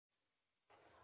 had an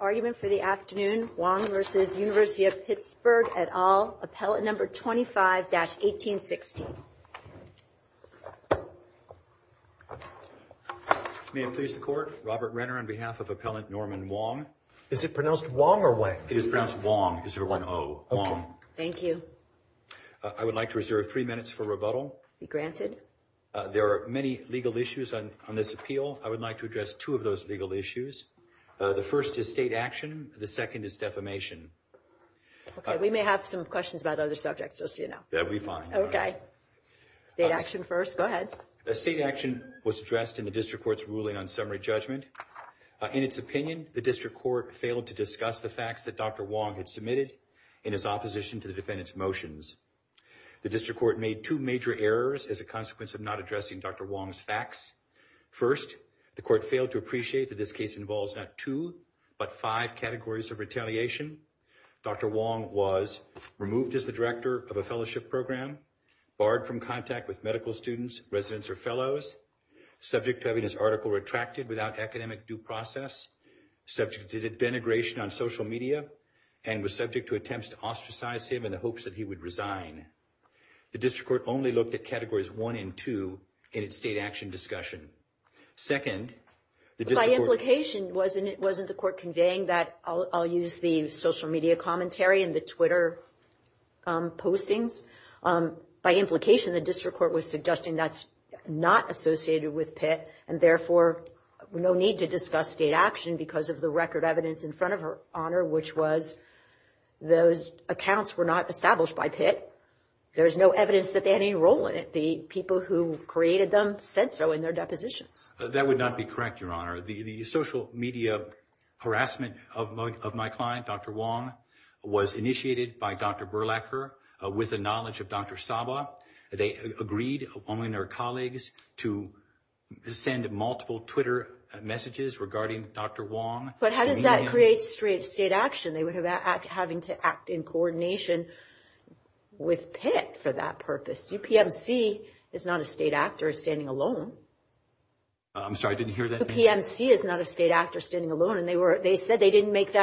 argument for the afternoon at all number 25 1816 May I please the court Robert Renner on behalf of norman Wong or what is pronounced Wong thank you I would like to reserve three minutes for rebuttal granted there are many legal issues on this appeal I would like to address two of those legal issues the first is state action the second is defamation we may have some questions about other subjects state action was addressed in the district court's ruling on summary judgment in its opinion the district court failed to discuss the facts that Dr. Wong had submitted in his opposition to the defendant's motions the district court made two major errors as a consequence of not addressing Dr. Wong's facts first the court failed to appreciate this case involves not two but five categories of retaliation Dr. Wong was removed as the director of a fellowship and was subject to attempts to ostracize him in the hopes that he would resign the district court only looked at categories one and two in its state action discussion second by implication wasn't the court conveying that I'll use the social media commentary and the Twitter postings by implication the district court was not those accounts were not established by Pitt there's no evidence that they had any role in it the people who created them said so in their deposition that would not be correct your honor the social media harassment of my client Dr. Wong was initiated by Dr. Burlacher with the knowledge of Dr. Saba they agreed to send multiple Twitter messages regarding Dr. Wong how does that create state action having to act in coordination with Pitt for that purpose UPMC is not a state actor standing alone they said they didn't make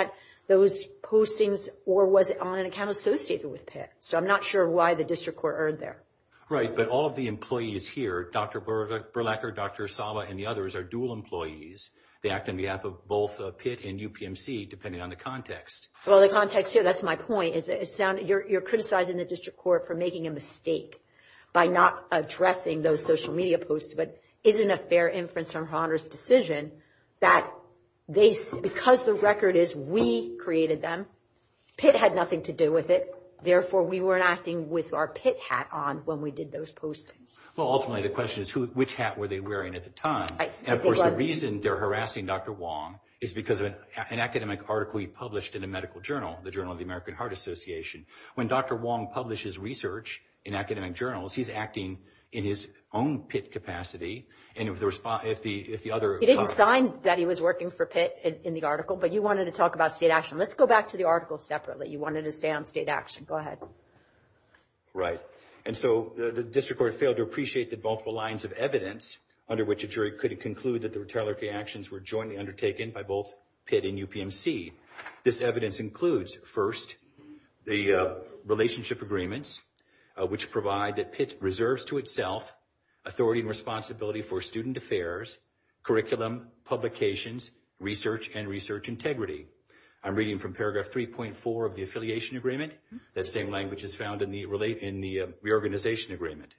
those postings or was on an associated with Pitt so I'm not sure why the district court erred there right but all the employees here Dr. Burlacher, Dr. Saba and the others are dual employees they act in the app of both Pitt and UPMC depending on the context well the context here that's my point you're criticizing the district court for making a mistake by not addressing the social media isn't a fair decision that because the record is we created them Pitt had nothing to do with it therefore we weren't asking with Pitt hat on ultimately the question is which hat were they wearing at the time the reason they're harassing Dr. Wong is because an academic article he published in a medical journal when Dr. Wong publishes research he's acting in his own Pitt capacity and if the other you didn't sign that he was working for Pitt in the article let's go back to the article separately you wanted to stay on state authority under which the were jointly undertaken by both Pitt and UPMC this includes first the relationship agreements which provide that reserves to itself authority and for student affairs curriculum publications research and research integrity I'm reading paragraph 3.4 of the affiliation agreement same language found in the reorganization agreement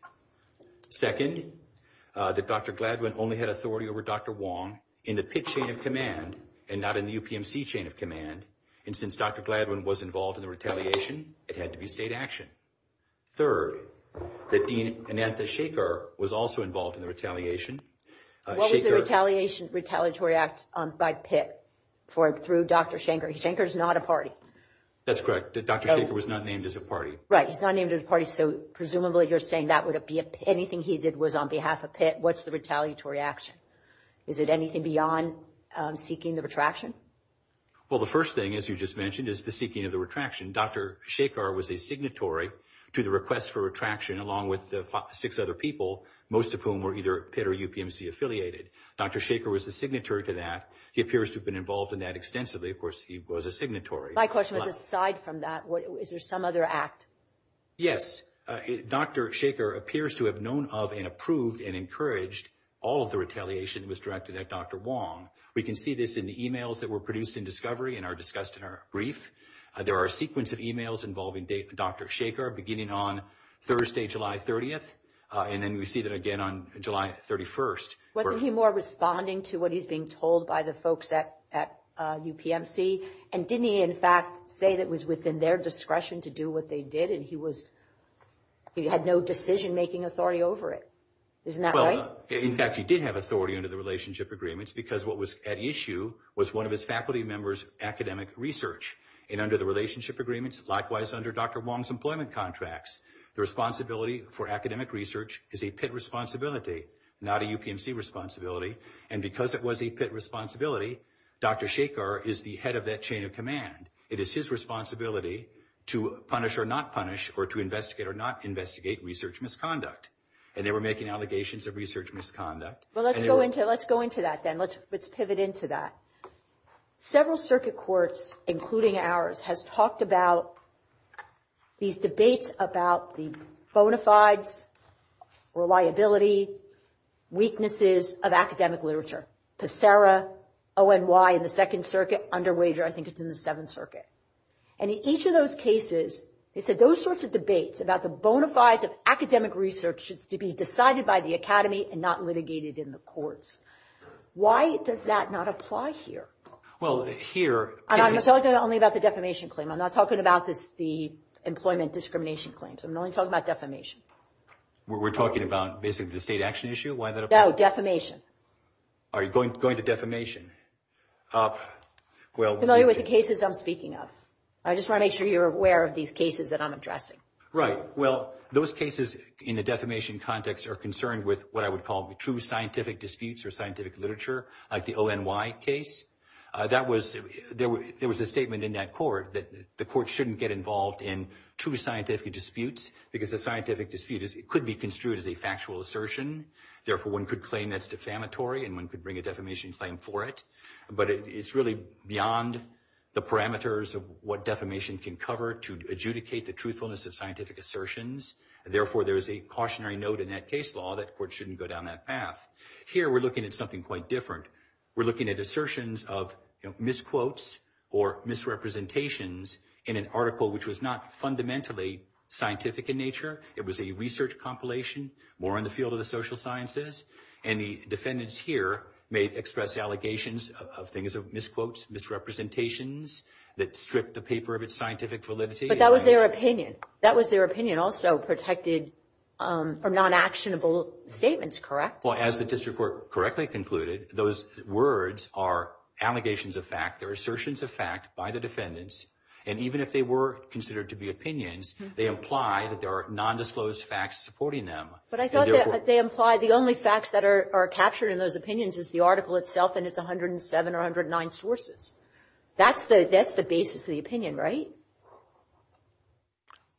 second Dr. Gladwin only had authority over Dr. Wong in the Pitt chain of command and since Dr. Gladwin was involved in the retaliation it had to be state action third that Dean Anantha Shaker was also involved in the retaliation what was the retaliatory act by Pitt through Dr. Shanker Shanker is not a party that's correct Dr. was not named as a party so presumably you're saying that would be anything he did was on behalf of what's the retaliatory action is it anything beyond seeking the retraction Dr. was a signatory to the request for retraction along with six other people most of whom were affiliated Dr. Shaker was a signatory to that he appears to have been involved in that extensively he was a signatory is there some other act yes Dr. Shaker appears to have known of and approved and encouraged all the retaliation was directed at Dr. Wong we can see this in the discussed in our brief there are a sequence of e-mails involving Dr. Shaker beginning on Thursday July 30 July 31 wasn't he responding to what he was being told by the folks at UPMC and didn't he say it was within their discretion to do what they did and he had no decision making authority over it isn't that right he did have authority because what was at issue was one of his faculty members academic research and under the agreement Dr. Wong's employment was to punish or not punish or to investigate or not investigate research misconduct and they were making allegations of research misconduct let's go into that several circuit courts including ours talked about these debates about the reliability weaknesses of academic literature in the second circuit and in each of those cases they said those sorts of debates should be decided by the academy and not litigated in the courts why does that not apply here I'm not talking about the employment discrimination claims I'm only talking about defamation we're talking about the state action issue defamation going to defamation familiar with the cases I'm speaking of I just want to make sure you're aware of these cases I'm addressing those cases in the defamation context are concerned with true scientific disputes or scientific literature like the ONY case there was a statement in that court the court shouldn't get involved in true scientific disputes because the scientific dispute could be construed as a factual assertion therefore one could claim that's defamatory and bring a defamation claim for it but it's really beyond the parameters of what defamation can cover to adjudicate the truthfulness of scientific assertions therefore there's a cautionary note in that case law that court shouldn't go down that path here we're looking at something quite different we're looking at assertions of misquotes or misrepresentations in an article which was not fundamentally scientific in nature it was a research compilation more in the field of the social sciences and the defendants here may express allegations of things of misquotes misrepresentations that stripped the paper of its scientific validity but that was their opinion that was their opinion also protected from non-actionable statements correct well as the district court correctly concluded those words are allegations of fact assertions of fact by the defendants and even if they were considered to be opinions they imply that there are non-disclosed facts supporting them but I thought they implied the only facts that are captured in those opinions is the article itself and it's 107 or 109 sources that's the basis of the opinion right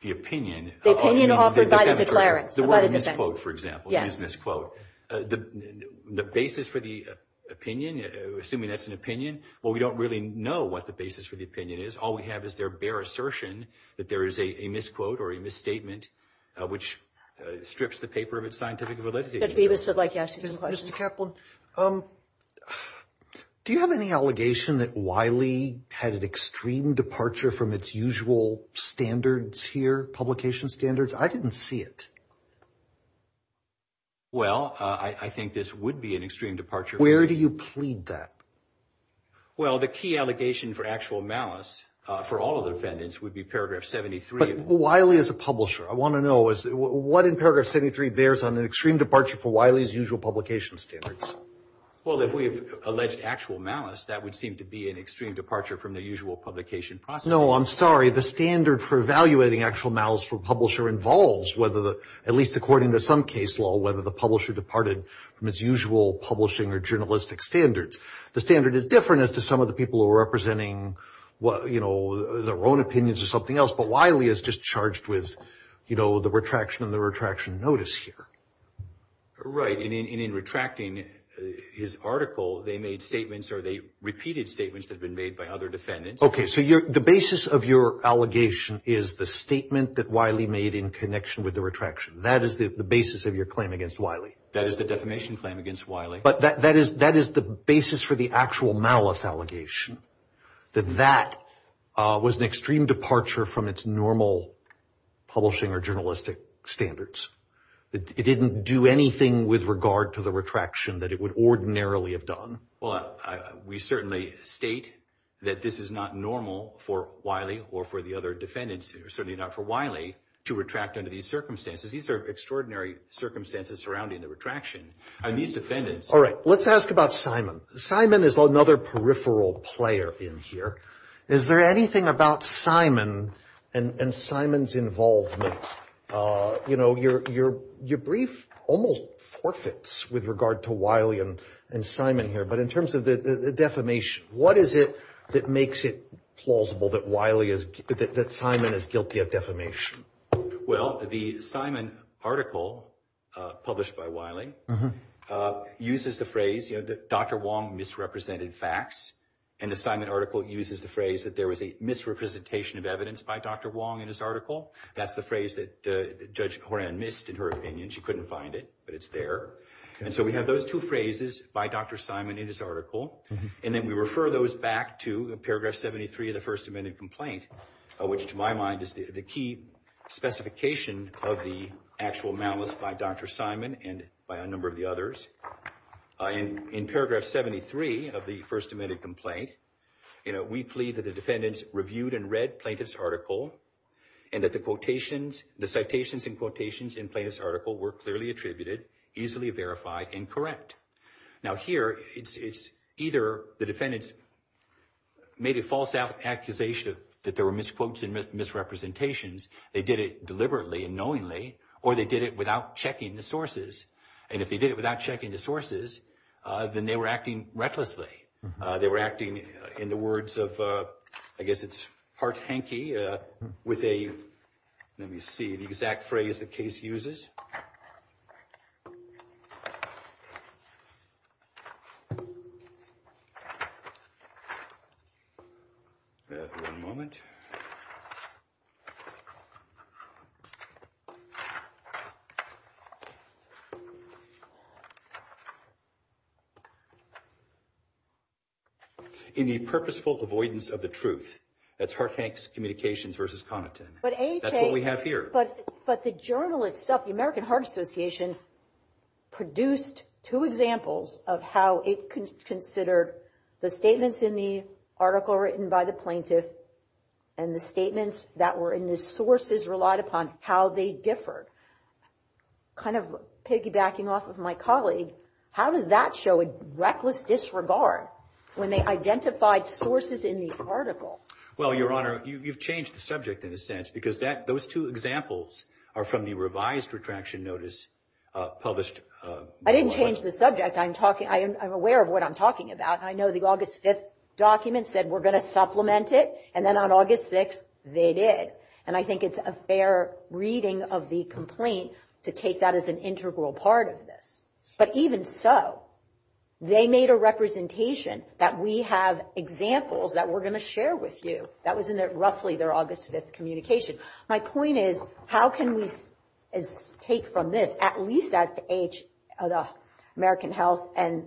the opinion the opinion offered by the declarant the word misquote for example the basis for the opinion assuming that's an well we don't really know what the basis for the opinion is all we have is their bare assertion that there is a misquote or a misstatement which strips the paper of its scientific validity do you have any allegation that Wiley had an extreme departure from its usual standards here publication standards I didn't see it well I think this would be an extreme departure where do you plead that well the key allegation for actual malice for all the defendants would be paragraph 73 but Wiley is a publisher I want to know what in paragraph 73 bears on an extreme departure for Wiley's usual publication standards well if we have alleged actual malice that would seem to be an extreme departure from the usual publication process no I'm sorry the standard for evaluating actual malice from publisher involves whether the at least according to some case law whether the publisher departed from its usual publishing or journalistic standards the standard is different as to some of the people who are representing well you know their own opinions or something else but Wiley is just charged with you know the retraction and the retraction notice here right and in retracting his article they made statements or they repeated statements that have been made by other defendants okay so the basis of your allegation is the statement that Wiley made in connection with the retraction that is the basis of your claim against Wiley that is the defamation claim against Wiley but that is the basis for the actual malice allegation that that was an extreme departure from its normal publishing or journalistic standards it didn't do anything with regard to the retraction that it would ordinarily have done well we certainly state that this is not normal for Wiley or for the other defendants certainly not for Wiley to retract under these circumstances these are extraordinary circumstances surrounding the retraction and these defendants all right let's ask about Simon Simon is another peripheral player in here is there anything about Simon and Simon's involvement you know your your brief almost forfeits with regard to Wiley and Simon here but in terms of the defamation what is it that makes it plausible that Wiley is that Simon is guilty of defamation well the Simon article published by Wiley uses the phrase you know Dr. Wong misrepresented facts and the Simon article uses the phrase that there was a misrepresentation of evidence by Dr. Wong in his that's the phrase that Judge Horan missed in her opinion she couldn't find it but it's there and so we have those two phrases by Dr. Simon in his and then we refer those back to paragraph 73 of the first amendment complaint which to my mind is the key specification of the actual malice by Dr. Simon and by a number of the others and in paragraph 73 of the first amendment complaint we plead that the defendants reviewed and read plaintiff's article and that the citations and quotations were clearly attributed easily verified and correct now here it's either the defendants made a false accusation that there were misquotes and misrepresentations they did it deliberately and knowingly or they did it without checking the sources and if they did it without checking the sources then they were recklessly they were acting in the words of I guess it's part hanky with a let me see the exact phrase the case uses in the purposeful avoidance of the truth that's communications versus content that's what we have here. But the journalists stuff the American heart association is the association produced two examples of how it considered the statements in the article written by the plaintiff and the statements that were in the sources relied upon how they differ kind of piggybacking off of my colleague how does that show a reckless disregard when they publish a I didn't change the subject. I'm aware of what I'm talking about. I know the August 5th document said we're going to supplement it and then on August 6th they did. I think it's a fair reading of the complaint to take that as an integral part of this. But even so they made a point at the age of American health and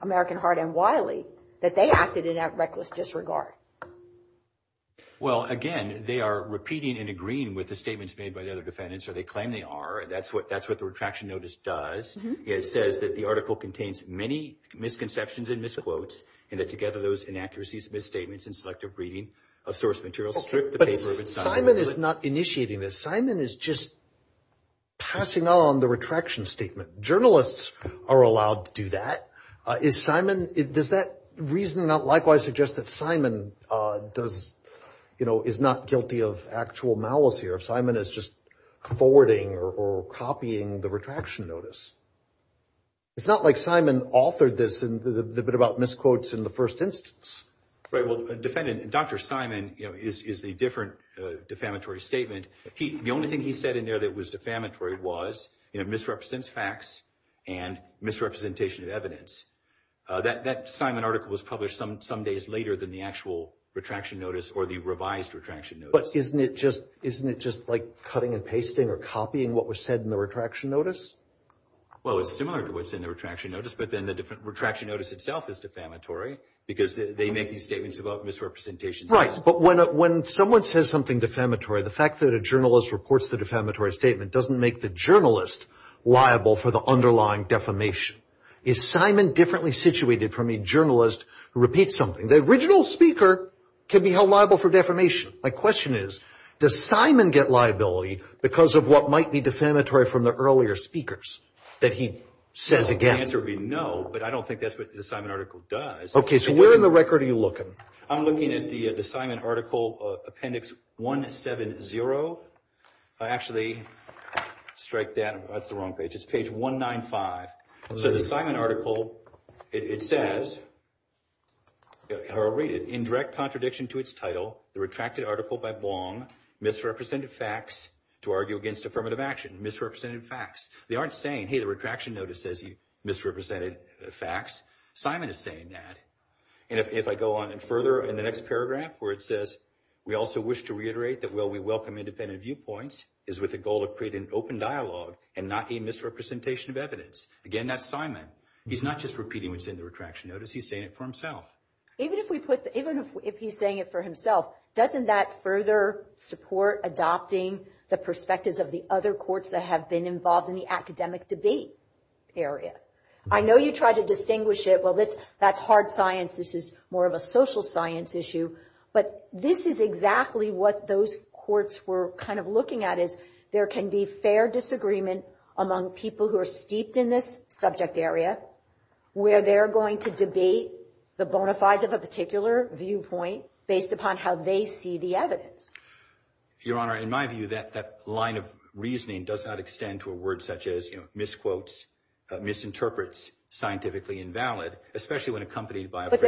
American heart and Wiley that they acted in that reckless disregard. Again they are repeating and agreeing with the statements made by the other defendants. It says the article contains many misconceptions and misquotes and together those inaccuracies and restrict the paper. But Simon is not initiating this. Simon is just passing on the retraction statement. Journalists are allowed to do that. Does that reason not likewise suggest that Simon is not guilty of actual malice here? It's not like Simon authored this and misquotes in the first instance. Dr. Simon is a different defamatory statement. The only thing he said was misrepresent facts and misrepresentation of evidence. That article was published some days later than the actual retraction notice. Isn't it just like cutting and pasting or copying what was said in the retraction notice? Well, it's similar to what's in the retraction notice, but then the retraction notice itself is defamatory because they may be statements about misrepresentation. Right. But when someone says something defamatory, the fact that a reports the defamatory statement doesn't make the journalist liable for the underlying defamation. Is Simon differently situated from a journalist who repeats something? The original speaker can be held liable for defamation. My question is, does Simon get liability because of what might be defamatory from the earlier speakers that he says again? The answer would be no, but I don't think that's what the Simon article does. Okay, so where in the record are you looking? I'm looking at the Simon article appendix 170. I actually strike that as the wrong page. It's page 195. So the Simon article, it says, or I'll read it, in direct contradiction to its title, the retracted article by Simon Simon is saying that. And if I go on further in the next paragraph where it says, we also wish to that we welcome independent viewpoints with the goal of creating open dialogue and not misrepresentation of evidence. Again, that's Simon. He's not just repeating what's in the retraction notice. He's saying it for himself. Even if he's saying it for doesn't that further support adopting the perspectives of the other courts that have been involved in the academic debate in I know you try to distinguish it. Well, that's hard science. This is more of a social science issue. But this is exactly what those courts were kind of looking at is there can be fair disagreement among people who are steeped in this subject area where they're going to debate the bonafides of a particular viewpoint based upon how they see the evidence. honor, in my view, that line of reasoning does not extend to a word such as misquotes, misinterprets, scientifically invalid, especially when accompanied by But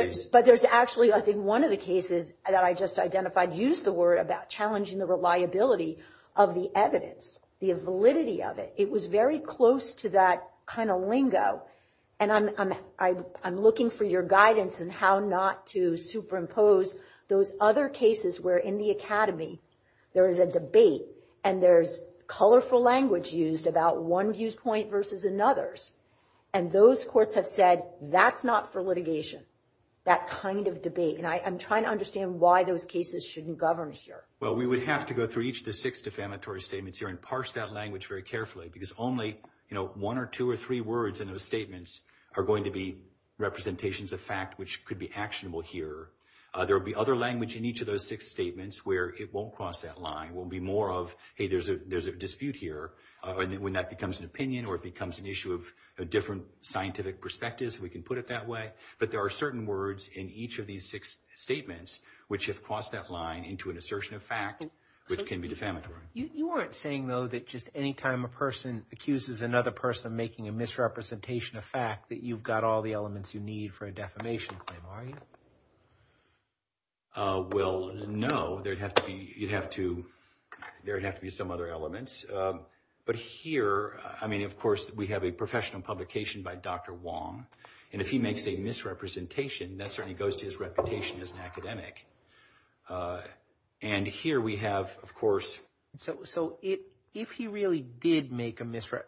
there's actually in one of the cases that I just talked guidance on how not to super impose those other cases where in the academy there is a debate and there's colorful language used about one viewpoint versus another. And those courts have said that's not for litigation. That kind of debate. And I'm trying to understand why those cases shouldn't govern here. We would have to go through each of the six statements and parse that language carefully. Only one or two or three words are going to be representations of fact which could be actionable here. There will be other language where it won't cross that line. There's a dispute here when that becomes an opinion or issue of different scientific perspectives. But there are certain words in each of these six statements which have crossed that line into an assertion of fact. You aren't saying that any time a person accuses another person of making a misrepresentation of fact that you have all the elements you need for a defamation claim, are you? No. There would have to be some other explanation for publication by Dr. Wong, and if he makes a misrepresentation, that certainly goes to his reputation as an academic. And here we have, of course... So, if he really did make a misrep...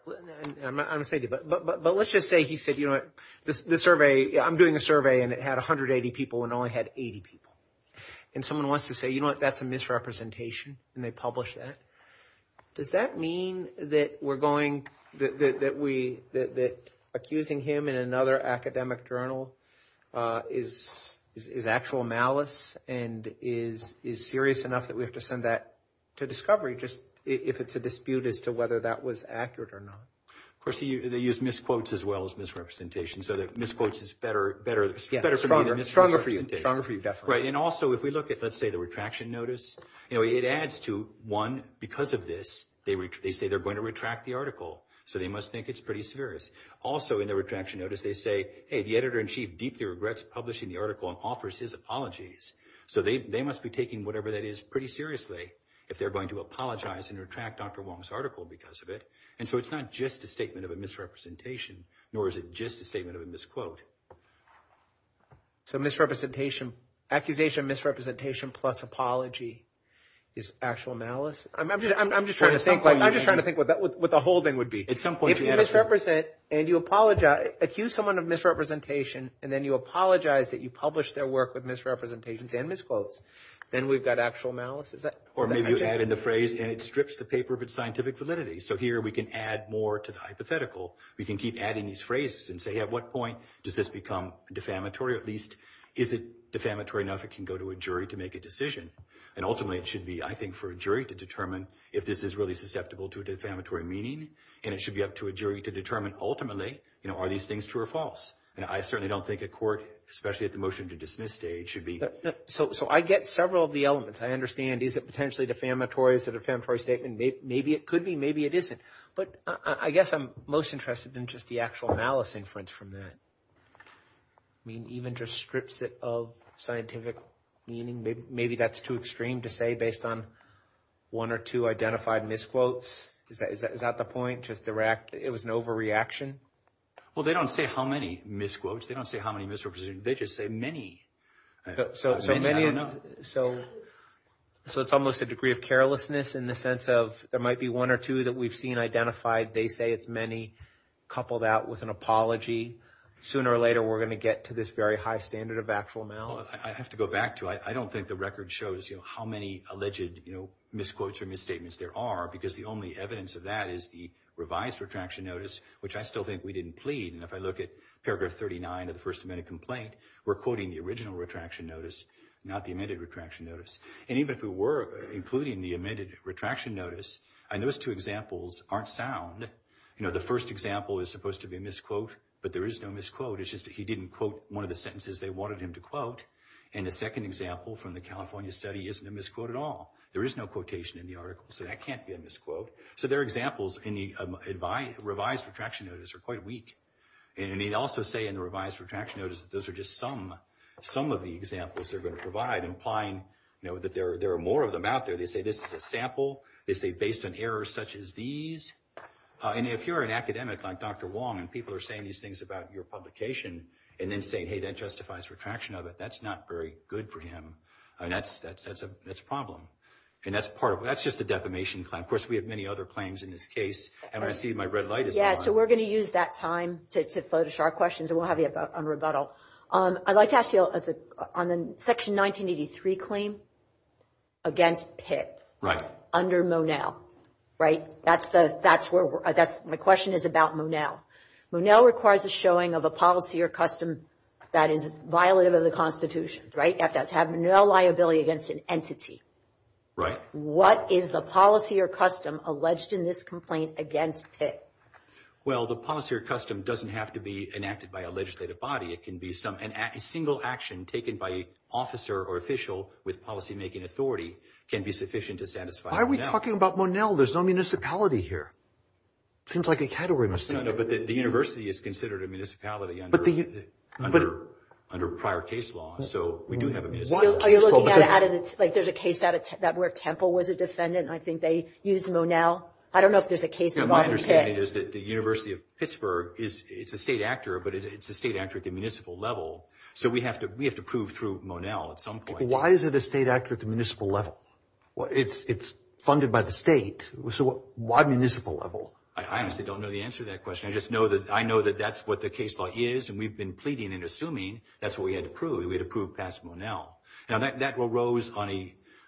I'm not saying... But let's just say he said, you know what, the survey... I'm doing a survey and it had 180 people and only had 80 people. And someone wants to say, you know what, that's a misrepresentation, and they publish that. Does that mean that we're going... that we... that accusing him in another academic journal is actual malice and is serious enough that we have to send that to discovery just if it's a dispute as to whether that was accurate or not? Of course, they use misquotes as well as misrepresentation, so misquotes is better... Stronger for you. And also, if we look at, let's say, the retraction notice, it adds to, because of this, they say they're going to retract the article, so they must think it's pretty serious. Also, in the retraction notice, they say, the editor-in-chief deeply regrets publishing the article and offers his apologies, so they must be taking whatever that is pretty seriously if they're going to apologize and retract Dr. Wong's article because of it, and so it's not just a statement of a misrepresentation, nor is it just a statement of If you accuse someone of misrepresentation and then you apologize that you published their work with misrepresentations and misquotes, then we've got actual malice. Or maybe you add in the phrase, and it strips the paper of its scientific validity, so here we can add more to the We can keep adding these phrases and say, at what point does this become defamatory at least? Is it defamatory enough it can go to a jury to make a And ultimately it should be, for a jury to determine if this is really susceptible to a defamatory meaning, and it should be up to a jury to ultimately, are these things true or false? I certainly don't think a be able to especially at the motion to dismiss day, it should be So I get several of the I understand, is it potentially defamatory? Is it a defamatory statement? Maybe it could be, maybe it isn't. But I guess I'm most interested in just the actual malice inference from that. I mean, even just strips it of scientific meaning, maybe that's too extreme to say based on one or two identified misquotes. Is that the point? It was an overreaction? Well, they don't say how many misquotes. They don't say how many misrepresentations. They just say many. So it's almost a degree of carelessness in the sense of there might be one or two that we've seen identified. They say it's many coupled out with an apology. Sooner or later we're going to get to this very high standard of actual malice. I don't think the record shows how many alleged misquotes or misstatements there are. The only evidence of that is the revised retraction notice, which I still think we didn't plead. If I look at paragraph 39 of the California example is supposed to be a but there is no misquote. The second example from the California study isn't a misquote at all. There are examples in the revised retraction notice that are quite weak. Some of the examples they're going to provide imply that there are misquotes based on errors such as these. If you're an academic like Dr. Wong and people are saying these things about your publication and then saying that justifies retraction of it, that's not very good for him. That's a problem. That's just a defamation claim. Of course, we have many other claims in this case. I see my red light is on. We're going to use that time to flourish our questions and we'll have you up on rebuttal. I'd like to ask you on the section 1983 claim against HIT under Monell. The question is about Monell. requires a showing of a policy or custom that is violative of the Constitution. To have no liability against an entity. What is the policy or custom alleged in this complaint against HIT? Well, the policy or custom doesn't have to be enacted by a legislative body. A single action taken by an officer or official with policymaking authority can be sufficient to satisfy a Seems like a category. The university is considered a municipality under prior case law. There's a case where Temple was a defendant. I think they used Monell. I don't know if there's a case. The university of Pittsburgh is a state actor at the municipal level. We have to assume that that's what we had approved. That arose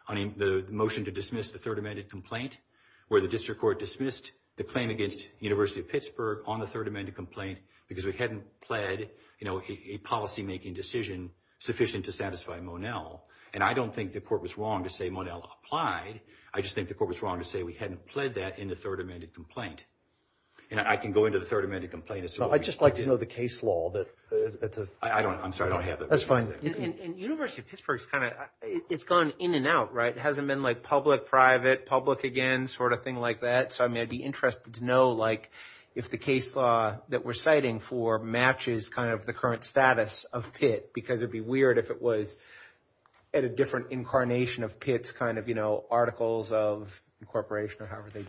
on the motion to dismiss the third amended complaint where the district court dismissed the claim against university of Pittsburgh on the third amended complaint because we hadn't pled a policymaking decision sufficient to satisfy Monell. I don't think the court was wrong to dismiss the third amended complaint. I can go into the third amended complaint. I would like to know the case law. It's gone in and out. It hasn't been public, public again. I'd be interested to know if the case law matches the current status of Pitt because it would be interesting to incarnation of Pitt's articles of incorporation.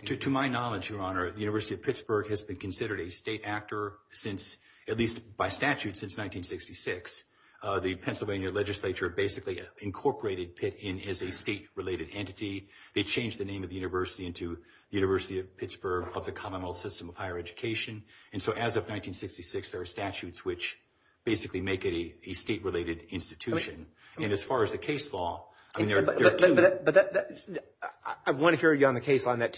To my knowledge, the university of Pittsburgh has been considered a state actor by statute since 1966. The Pennsylvania legislature basically incorporated Pitt in as a state related entity. As of 1966, there are three I want to hear you on the case law on that.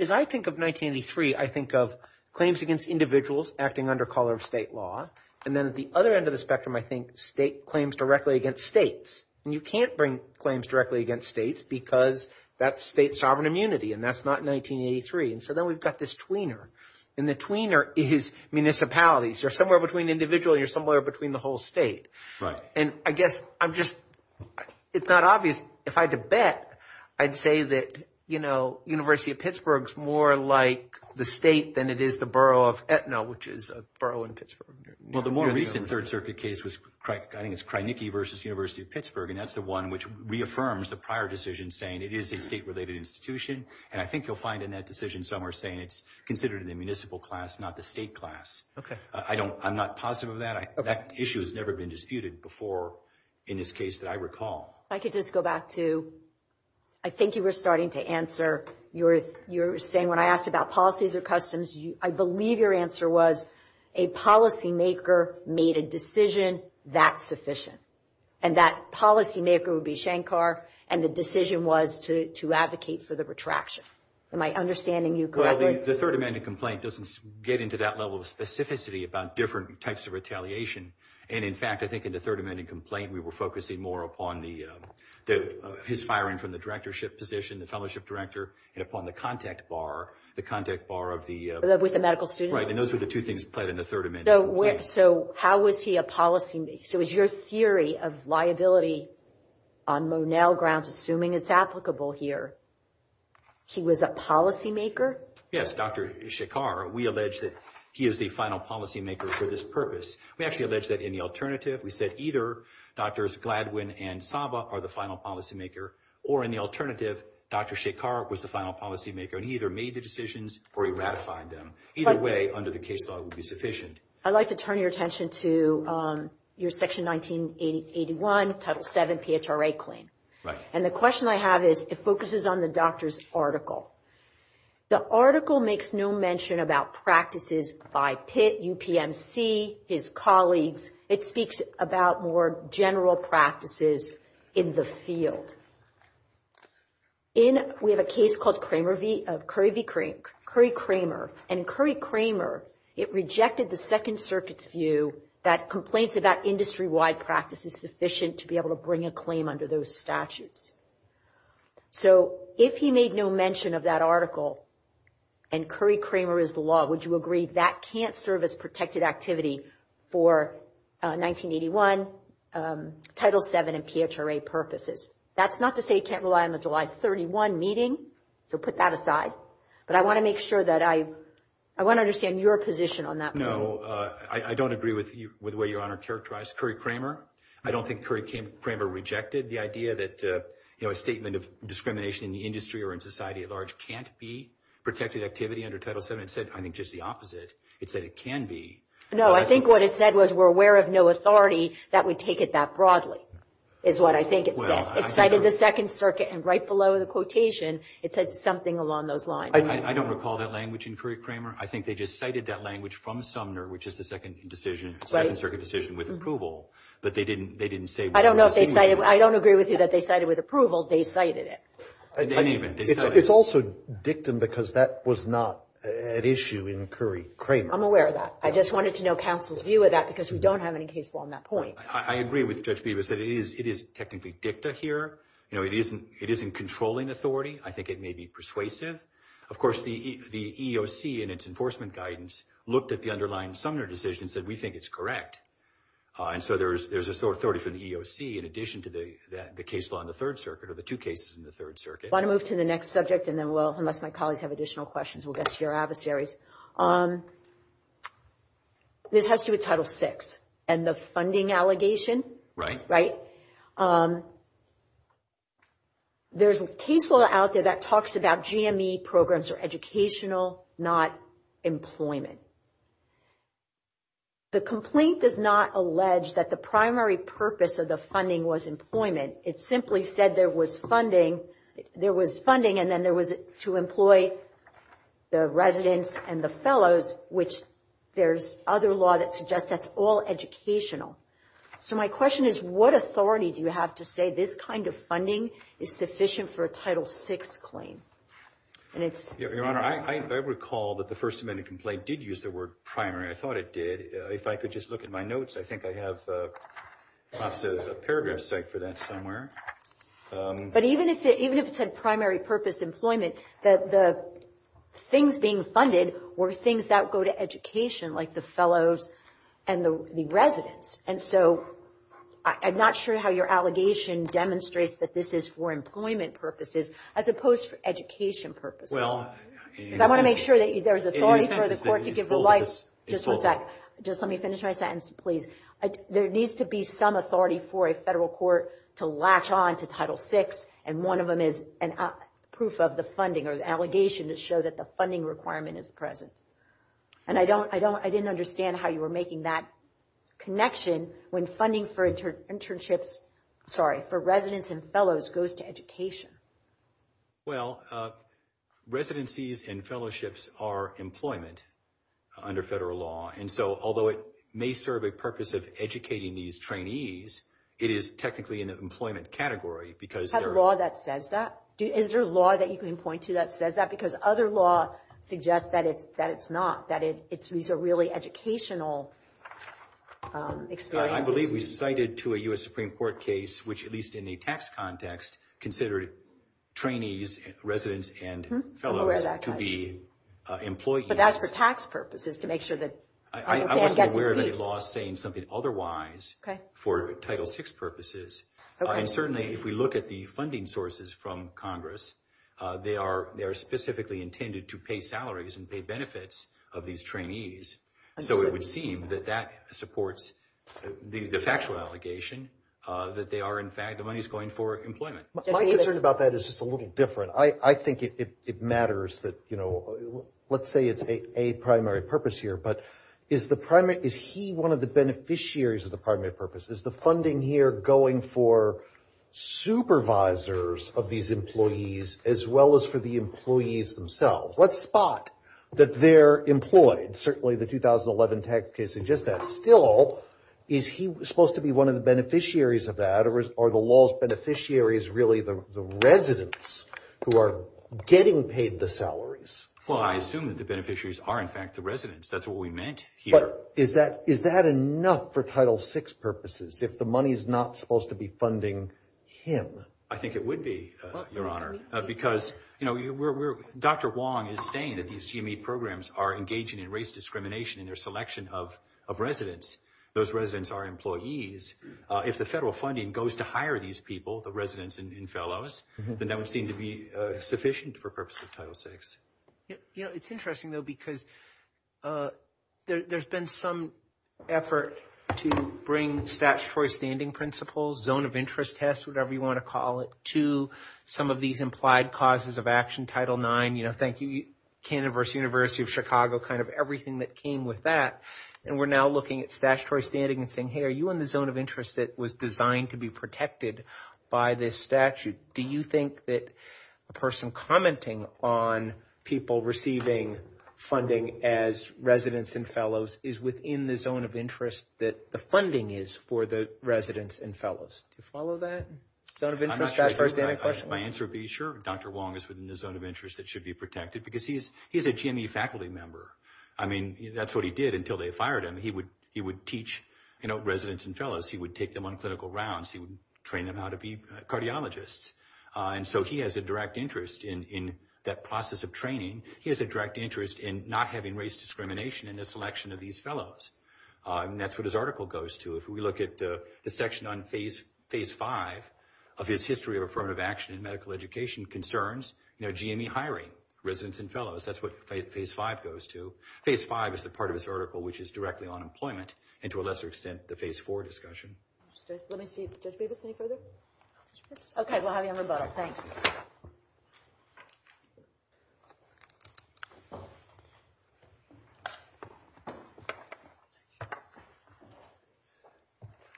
As I think of 1983, I think of claims against individuals acting under state law. At the other end of the spectrum, state claims directly against states. You can't bring claims directly against states because that's state sovereign immunity and that's not 1983. Then we've got this tweener. The tweener is municipalities. You're somewhere between individual and the whole state. I guess it's not obvious. If I had to bet, I'd say that the university of Pittsburgh is more like the state than it is the borough of The more recent case was the one which reaffirms the prior decision saying it is a state-related institution. I'm not positive of That issue has never been disputed before in this case that I I think you were starting to I believe your answer was a policy maker made a decision that is sufficient. And that policy maker would be Shankar and the decision was to advocate for the retraction. Am I understanding you correctly? The third amendment complaint doesn't get into that level of specificity about retaliation. In the third amendment. So how was he a policy maker? Your theory of liability on grounds assuming it is applicable here. He was a policy maker? Yes. We allege he is the final policy maker for this purpose. In the we said the case would be sufficient. I would like to turn your attention to your 1981 title 7 PHRA claim. The question I have is it focuses on the doctor's article. The article makes no mention about practices by Pitt, his colleagues. It speaks about more general practices in the field. We have a case called Curry Cramer. It rejected the second circuit's view that it is sufficient to bring a claim under those statutes. If he made no mention of that it title 7 PHRA purposes. That's not to say you rely on the July 31 meeting. I want to understand your position on that. I don't think it rejected the idea that a statement of in the can't be protected activity. It said the opposite. It said it can be. I think it said we're aware of no authority. It cited the second circuit and right below the quotation it said something along those lines. I don't recall that language. I think they cited that language from Sumner which is the second circuit decision with approval. I don't agree with you that they cited it with approval. They cited it. It's also dictum because that was not an issue. I'm aware of that. I just wanted to know the counsel's view. I agree with Judge Beebe. It is technically dicta here. It isn't controlling authority. I think it may be persuasive. The EEOC looked at the underlying Sumner decision and said we think it's correct. There's authority from the EEOC in addition to the case law in the third circuit. I want to move to the next subject. This has to do with Title 6 and the funding allegation. There's a case law out there that talks about GME programs are educational, not employment. The complaint does not allege that the primary purpose of the funding was employment. It simply said there was funding and then there was to employ the residents and the fellows, which there's other law that suggests that's all educational. So my question is what authority do you have to say this kind of funding is sufficient for a Title 6 claim? Your I recall that the primary purpose of the was education. I'm not sure how your allegation demonstrates that this is for employment purposes as opposed to education purposes. I want to make sure there's authority for the court to give advice. Let me finish my sentence, please. There needs to be some authority for a federal court to latch on to Title 6 and one of them is proof of the funding or the allegation to show that the requirement is present. I didn't understand how you were making that connection when funding for residents and fellows goes to education. How Residencies and fellowships are employment under federal law. Although it may serve a purpose of educating these it is technically an category. Is there a law that says that? Other laws suggest that it's not. These are really educational experiences. I believe we cited to a U.S. Supreme Court case which in the tax context considered trainees residents and fellows to be employed. But that's for tax purposes to make sure that the is going employment. My concern about that is a little different. I think it matters that let's say it's a primary purpose here. But is he one of the beneficiaries of the primary purpose? Is the funding here going for supervisors of these employees as well as for the themselves? Let's spot that they're employed. the 2011 tax case suggests that still is he supposed to be one of the beneficiaries of that? Are the law's beneficiaries really the residents who are getting paid the Is that enough for Title VI purposes if the money is not supposed to be him? I think it would be, your honor. Dr. Wong is saying that these programs are engaging in race discrimination in their selection of residents. Those residents are employees. If the federal funding goes to these people, that would seem to be sufficient for Title IX. Some of these implied causes of action, Title IX, university of Chicago, everything that came with that. We're looking at statutory standing and saying are you in the zone of interest that was designed to be protected by this statute? Do you think that the person commenting on people receiving funding as residents and fellows is within the zone of interest that the funding is for the residents and fellows? follow that? My answer would be sure, Dr. Wong is within the zone of that should be We'll have you on the boat.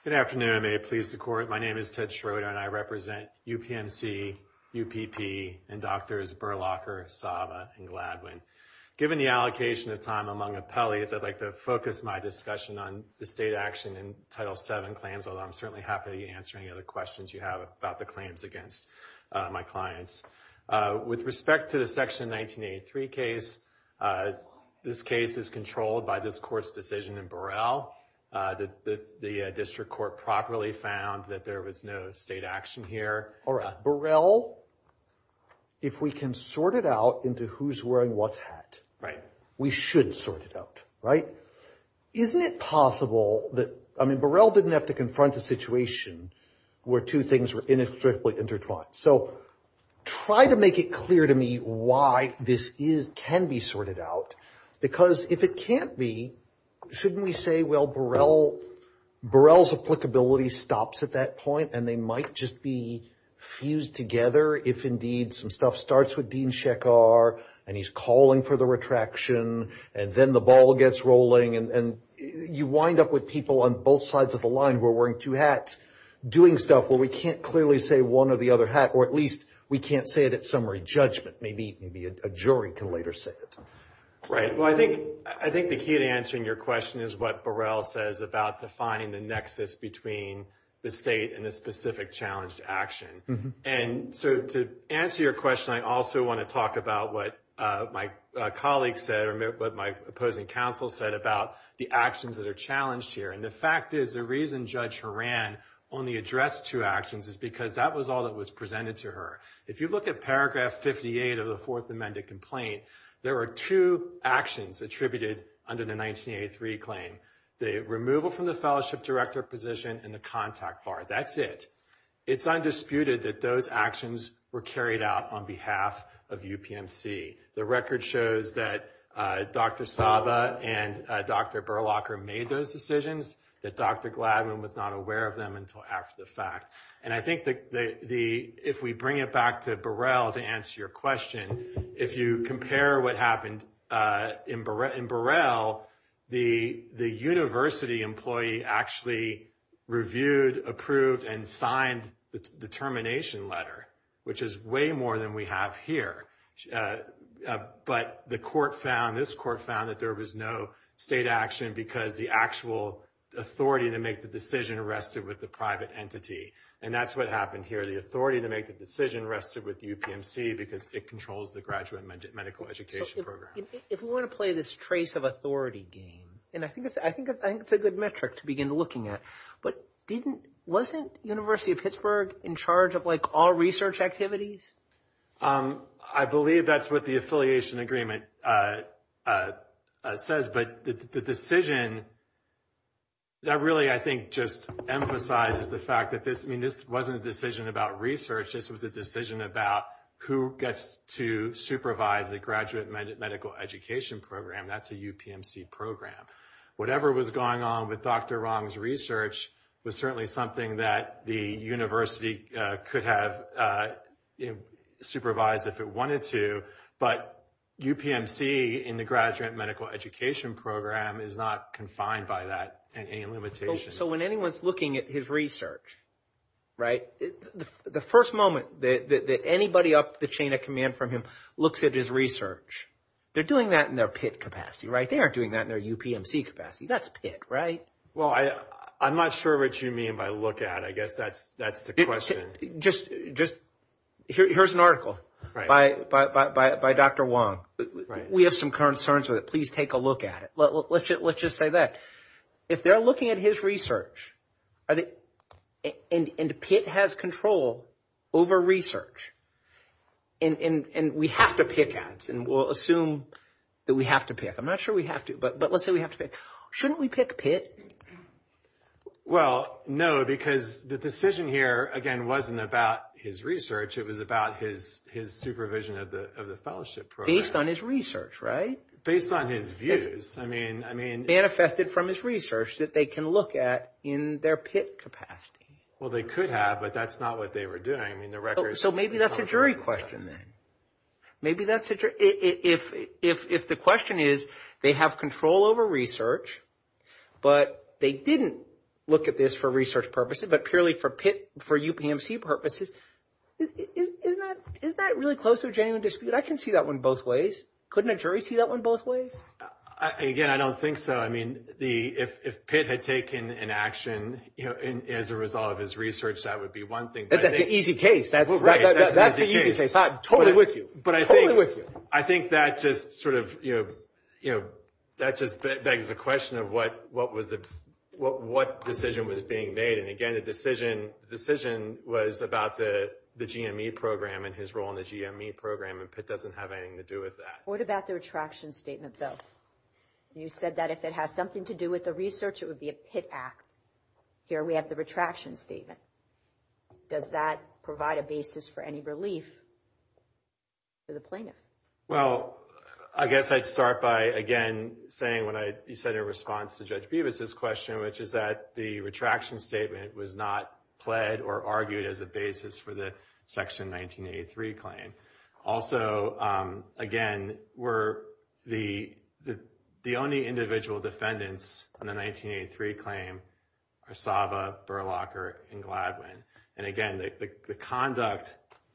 Good afternoon. May it please the My name is Ted Schroeder and I represent UPMC, UPP, and Drs. Berlocher, and Gladwin. I'd like to focus my discussion on the state action in Title VII claims, although I'm certainly happy to answer any other questions you have about the claims against my clients. With respect to the section 1983 case, this case is controlled by this court's decision in Burrell that the district court properly found that there was no state action here. Burrell, if we can sort it out into who's wearing what's hat, we should sort it out, right? Isn't it possible that Burrell didn't have to confront the situation where two things were intertwined? Try to make it clear to me why this can be sorted out because if it can't be, shouldn't we say, well, Burrell's applicability stops at that point and they might just be calling for the retraction and then the ball gets rolling and you wind up with people on both sides of the line wearing two hats doing stuff where we can't clearly say one or the other hat or at least we can't say it at summary judgment. Maybe a jury can later say it. I think the key to answering your question is says about defining the nexus between the state and the specific challenge to To answer your question, I also want to talk about what my colleagues said or what my opposing counsel said about the actions that here. The fact is the reason judge Horan only addressed two actions is because that was all that was presented to her. If you look at paragraph 58 of the fourth amendment complaint, there are two actions attributed under the 1983 claim. The removal from the position and the contact bar. That's it. It's undisputed that those actions were carried out on behalf of UPMC. The record shows that Dr. Horan If we bring it back to Burrell to answer your question, if you compare what happened in Burrell, the university employee actually reviewed, and signed the termination letter, which is way more than we have here. But the decision rests with UPMC because it controls the graduate medical education program. If we want to play this trace of authority game, and I think it's a good metric to begin looking at, wasn't University of Pittsburgh in charge of all research activities? I believe that's what the affiliation agreement says, but the decision rests with And that really, I think, just emphasizes the fact that this wasn't a decision about research, this was a decision about who gets to supervise the medical education program. That's a UPMC program. Whatever was going on with Dr. Rong's research, defined by that. So when anyone's looking at his research, the first moment that anybody up the chain of command from him looks at his research, they're doing that in their pit capacity. They aren't doing that in their UPMC capacity. That's pit, right? I'm not sure what you mean by look at. I guess that's the question. Here's an article by Dr. Wong. We have some concerns with it. Please take a look at it. Let's just say that. If they're looking at his research and pit has control over research and we have to pick at it and we'll assume that we have to pick. I'm not The decision here, again, wasn't about his research. It was about his supervision of the fellowship. Based on his research, right? Based on his views. Manifested from his research that they can look at in their pit capacity. They could have, but that's not what they were doing. Maybe that's a jury question. If the question is, they have control over research, but they didn't look at this for research purposes, but purely for UPMC purposes, is that really close to a genuine dispute? I can see that one both ways. Couldn't a jury see that one both ways? Again, I don't think so. If pit had taken an action as a result of his research, that would be one thing. That's an easy case. Totally with you. I think that is a question of what decision was being made. Again, the decision was about the GME program and his role in the GME program. Pit doesn't have anything to do with that. What about the attraction statement, though? You said that if it had something to do with the research, it would be a pit act. Here we have the retraction statement. Does that provide a basis for any relief for the plaintiff? Well, I guess I'd start by again saying when you said your response to Judge Bevis' question, which is that the retraction statement was not pled or argued as a basis for the section 1983 claim. again, the only individual defendants on the 1983 claim are Burlacher, and Gladwin. Again, the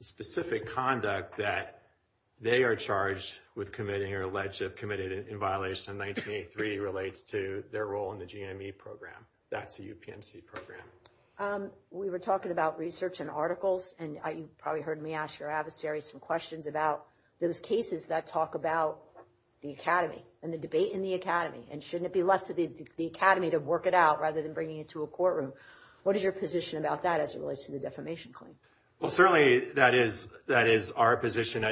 specific conduct that they are charged with committing or allegedly committed in violation of 1983 relates to their role in the GME program. That's the UPMC program. We were talking about research and articles, and you probably heard me ask your adversary some questions about those cases that talk about the academy and the debate in the academy, and shouldn't it be left to the academy to work it out rather than bringing it to a courtroom? What is your position about that as it relates to the defamation claim? Certainly, that is our position.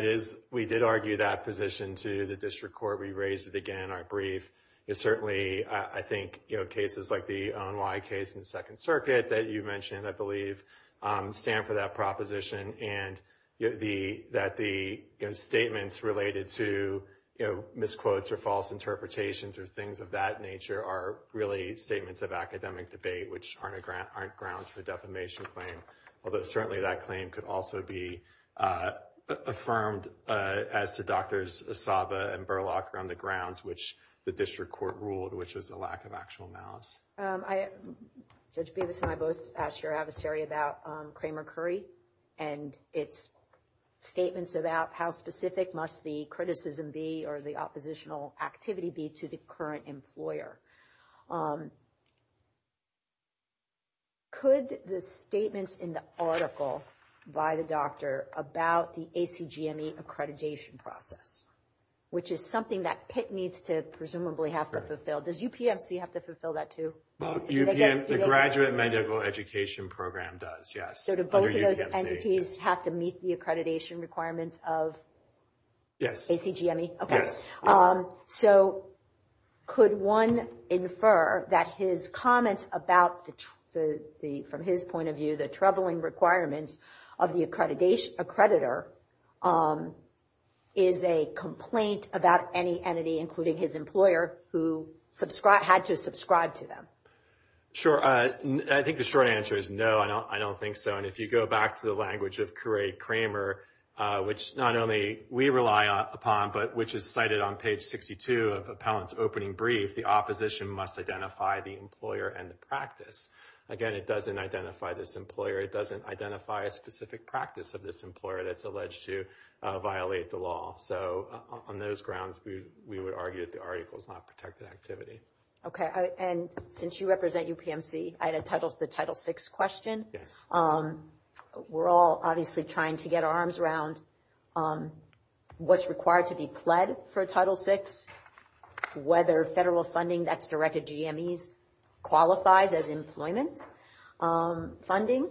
We did argue that position to the district court. We raised it again in our I think cases like the ONY case in the second circuit that you mentioned stand for that proposition and that the statements related to misquotes or false interpretations are really statements of academic debate which aren't grounds for defamation claims. Certainly, that claim could also be affirmed as to doctors around the grounds which the district court ruled which was a lack of actual analysis. I asked your adversary about Kramer-Curry and its statements about how specific must the criticism be or the oppositional activity be to the current employer. Could the statements in the article by the doctor about the ACGME accreditation process which is something that PIT needs to presumably have to Does it have to meet the accreditation requirements of ACGME? Could one infer that his comments about from his point of view the troubling requirements of the accreditor is a about any entity including his employer who had to subscribe to them? I think the short answer is no. I don't think so. If you go back to the language of Curry-Cramer which is cited on page 62 the opposition must identify the employer and the practice. It doesn't identify a specific practice of this employer that is alleged to violate the law. On those grounds we are trying to get our arms around what is required to be pled for Title VI, whether federal funding that is directed to GMEs qualifies as funding,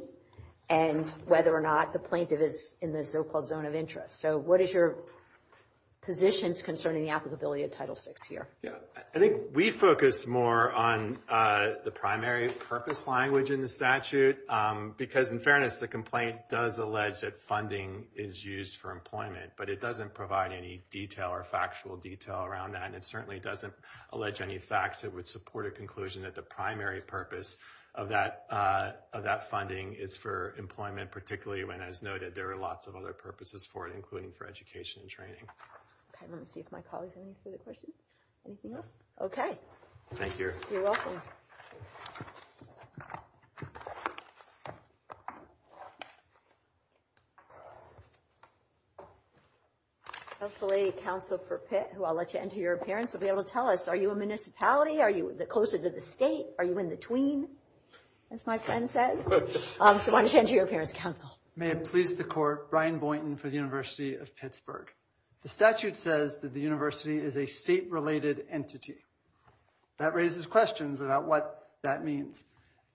and whether or not the plaintiff is in the zone of interest. What is your position concerning the applicability of Title VI here? I think we focus more on the primary purpose language in the statute because in fairness the complaint does allege that funding is used for employment but it doesn't provide any factual detail around that. It doesn't allege any facts that would support a conclusion that the primary purpose of that funding is for employment because it there are a lot of other purposes including education and training. Any questions? You're welcome. Council for Pitt I'll let you tell us are you closer to the state? Are you in between? I want to turn to your parents council. The statute says that the university is a state related entity. That raises questions about what that means.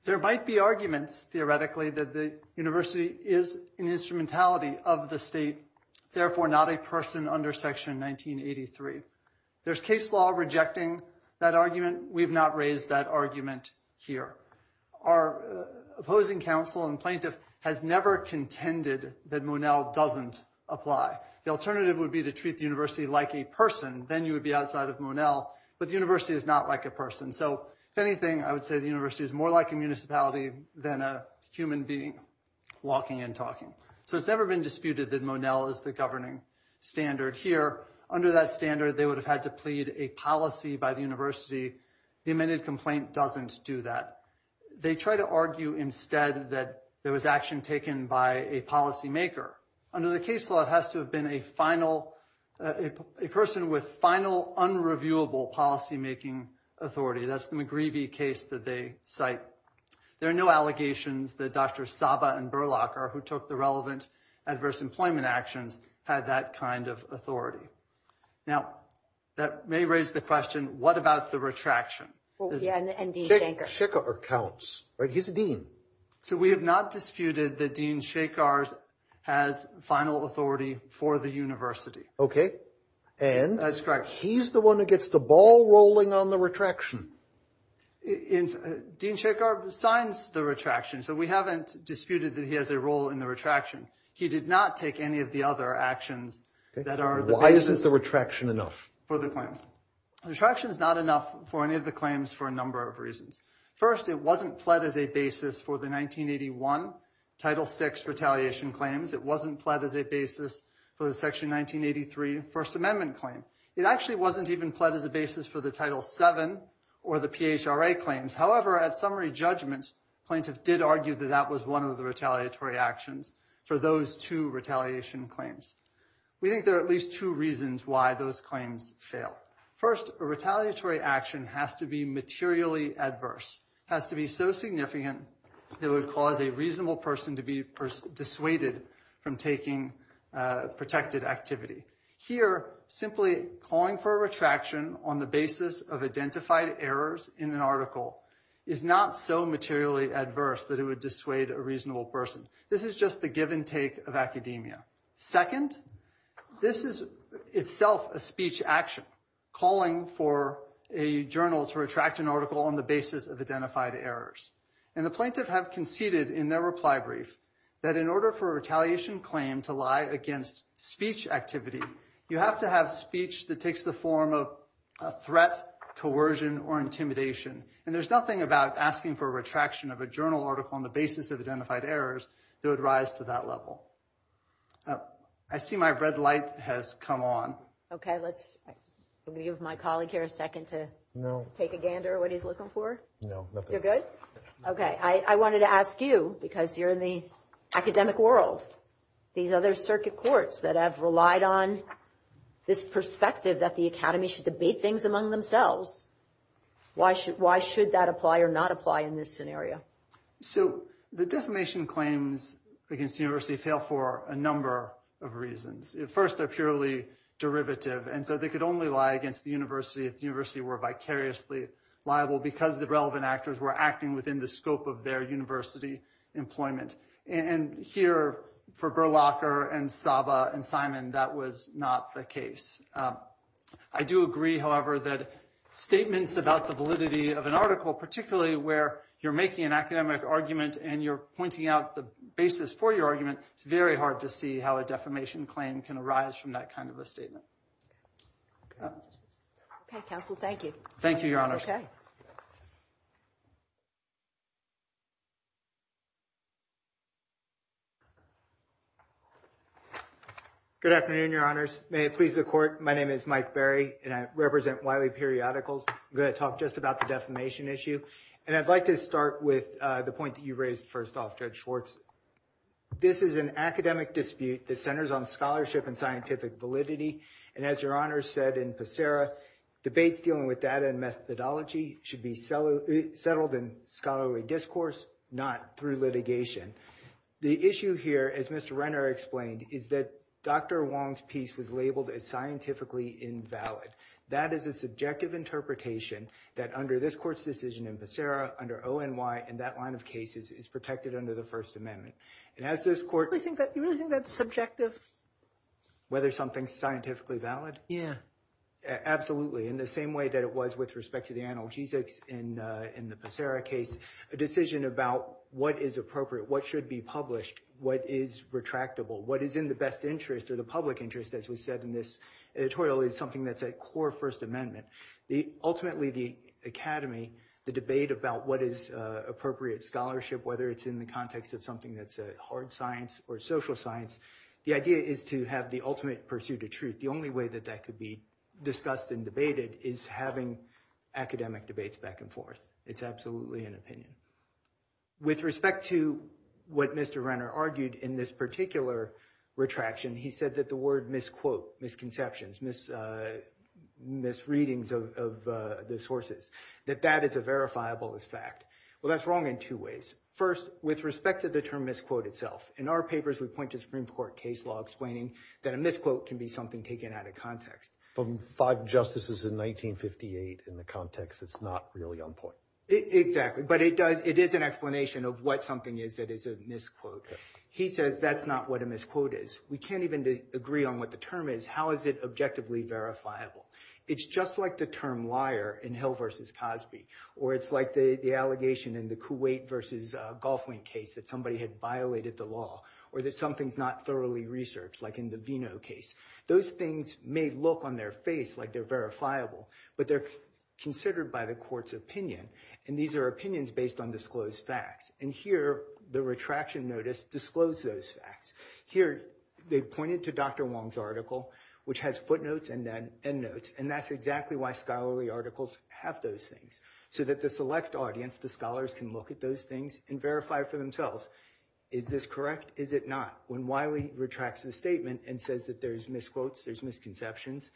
There might be arguments that the university is an entity. We've not raised that argument here. Our opposing council and plaintiff has never contended that Monell doesn't apply. The alternative would be to treat the university like a person. The university is not like a person. It's more like a municipality than a human being walking and It's never been treated like try to argue instead that there was action taken by a policymaker. Under the case law, it has to have been a person with final unreviewable policymaking authority. There are no allegations that Dr. Saba who took the relevant adverse employment actions had that kind of authority. That may raise the question, what about the retraction? We have not disputed that Dean Shakar has final authority for the university. He's the one that gets the ball rolling on the Dean Shakar signs the so we haven't disputed that he has a role in the retraction. He did not take any of the other actions. Retraction is not enough for any of the claims for a number of reasons. First, it wasn't pled as a basis for the 1981 title 6 retaliation claims. It wasn't pled as a basis for one of the retaliatory actions. We think there are at least two reasons why those claims fail. First, a retaliatory action has to be materially adverse. It would cause a reasonable person to be dissuaded from taking protected activity. Here, simply calling for retraction on the basis of identified errors in an article is not so materially adverse that it would dissuade a reasonable person. This is just the give and take of Second, this is itself a speech action calling for a journal to retract an article on the basis of errors. In order for a journal to retract an article on the basis of identified errors, it would rise to that level. I see my red light has come on. I wanted to ask you, because you are in the academic world, these other circuit courts that have relied on this perspective that the academy should debate things among themselves. Why should that apply or not apply in this scenario? The defamation claims fail for a number of reasons. First, they are purely derivative. They could only lie against the university if they were vicariously liable because the relevant actors were acting within the scope of their university employment. Here, that was not the case. I do agree, that statements about the validity of an where you are making an academic argument and pointing out the basis for your argument, it is very hard to see how a defamation claim can arise from that kind of a statement. Thank you, Good afternoon, your honors. My name is Mike Barry and I represent Wiley periodicals. I would like to start with the point you raised first off. This is an academic dispute that centers on scholarship and scientific validity. Debates should be settled in scholarly discourse, not through litigation. The issue is that Dr. Wong's piece was labeled as invalid. That is a subjective interpretation that under this court's decision, that is protected under the first amendment. Do you really think that is subjective? Absolutely. In the same way that it was with respect to the analgesics, a decision about what should be published, what is retractable, what is in the academy, the debate about what is appropriate scholarship, whether in the context of hard science or social science, the idea is to have the ultimate pursuit of The only way that could be discussed and debated is having academic debates back and forth. It is absolutely an opinion. With respect to the what Mr. Renner argued in this particular retraction, he said that the word misquote, misconceptions, misreadings of the sources, that is a verifiable fact. That is wrong in two ways. First, with respect to the term misquote itself, in our papers we point to the Supreme Court case law explaining that a can be something taken out of context. It is an explanation of what something is that is a misquote. He said that is not what a misquote is. We can't even agree on what the term is. Second, how is it objectively verifiable? It is like the term liar in the case that somebody violated the law. Those things may look on their face like they are verifiable, but they are considered by the court's opinion. Here, the Supreme footnotes and end notes. The select audience can look at those things and verify for is this correct or not. Wiley says there are misquotes and misconceptions,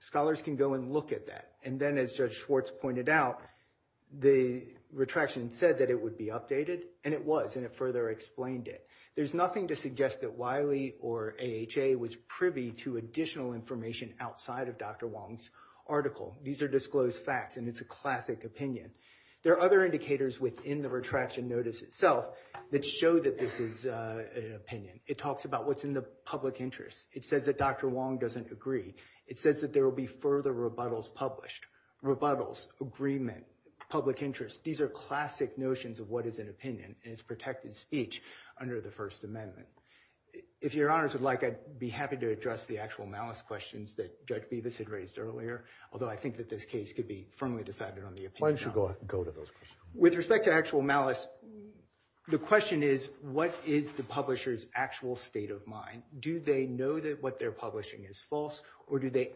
scholars can look at that. As Judge Wiley misquotes and at those is this correct or not. would be happy to address the actual malice questions. With respect to actual malice, the question is what is the publisher's actual state of mind. Do they know what they are publishing is false or do they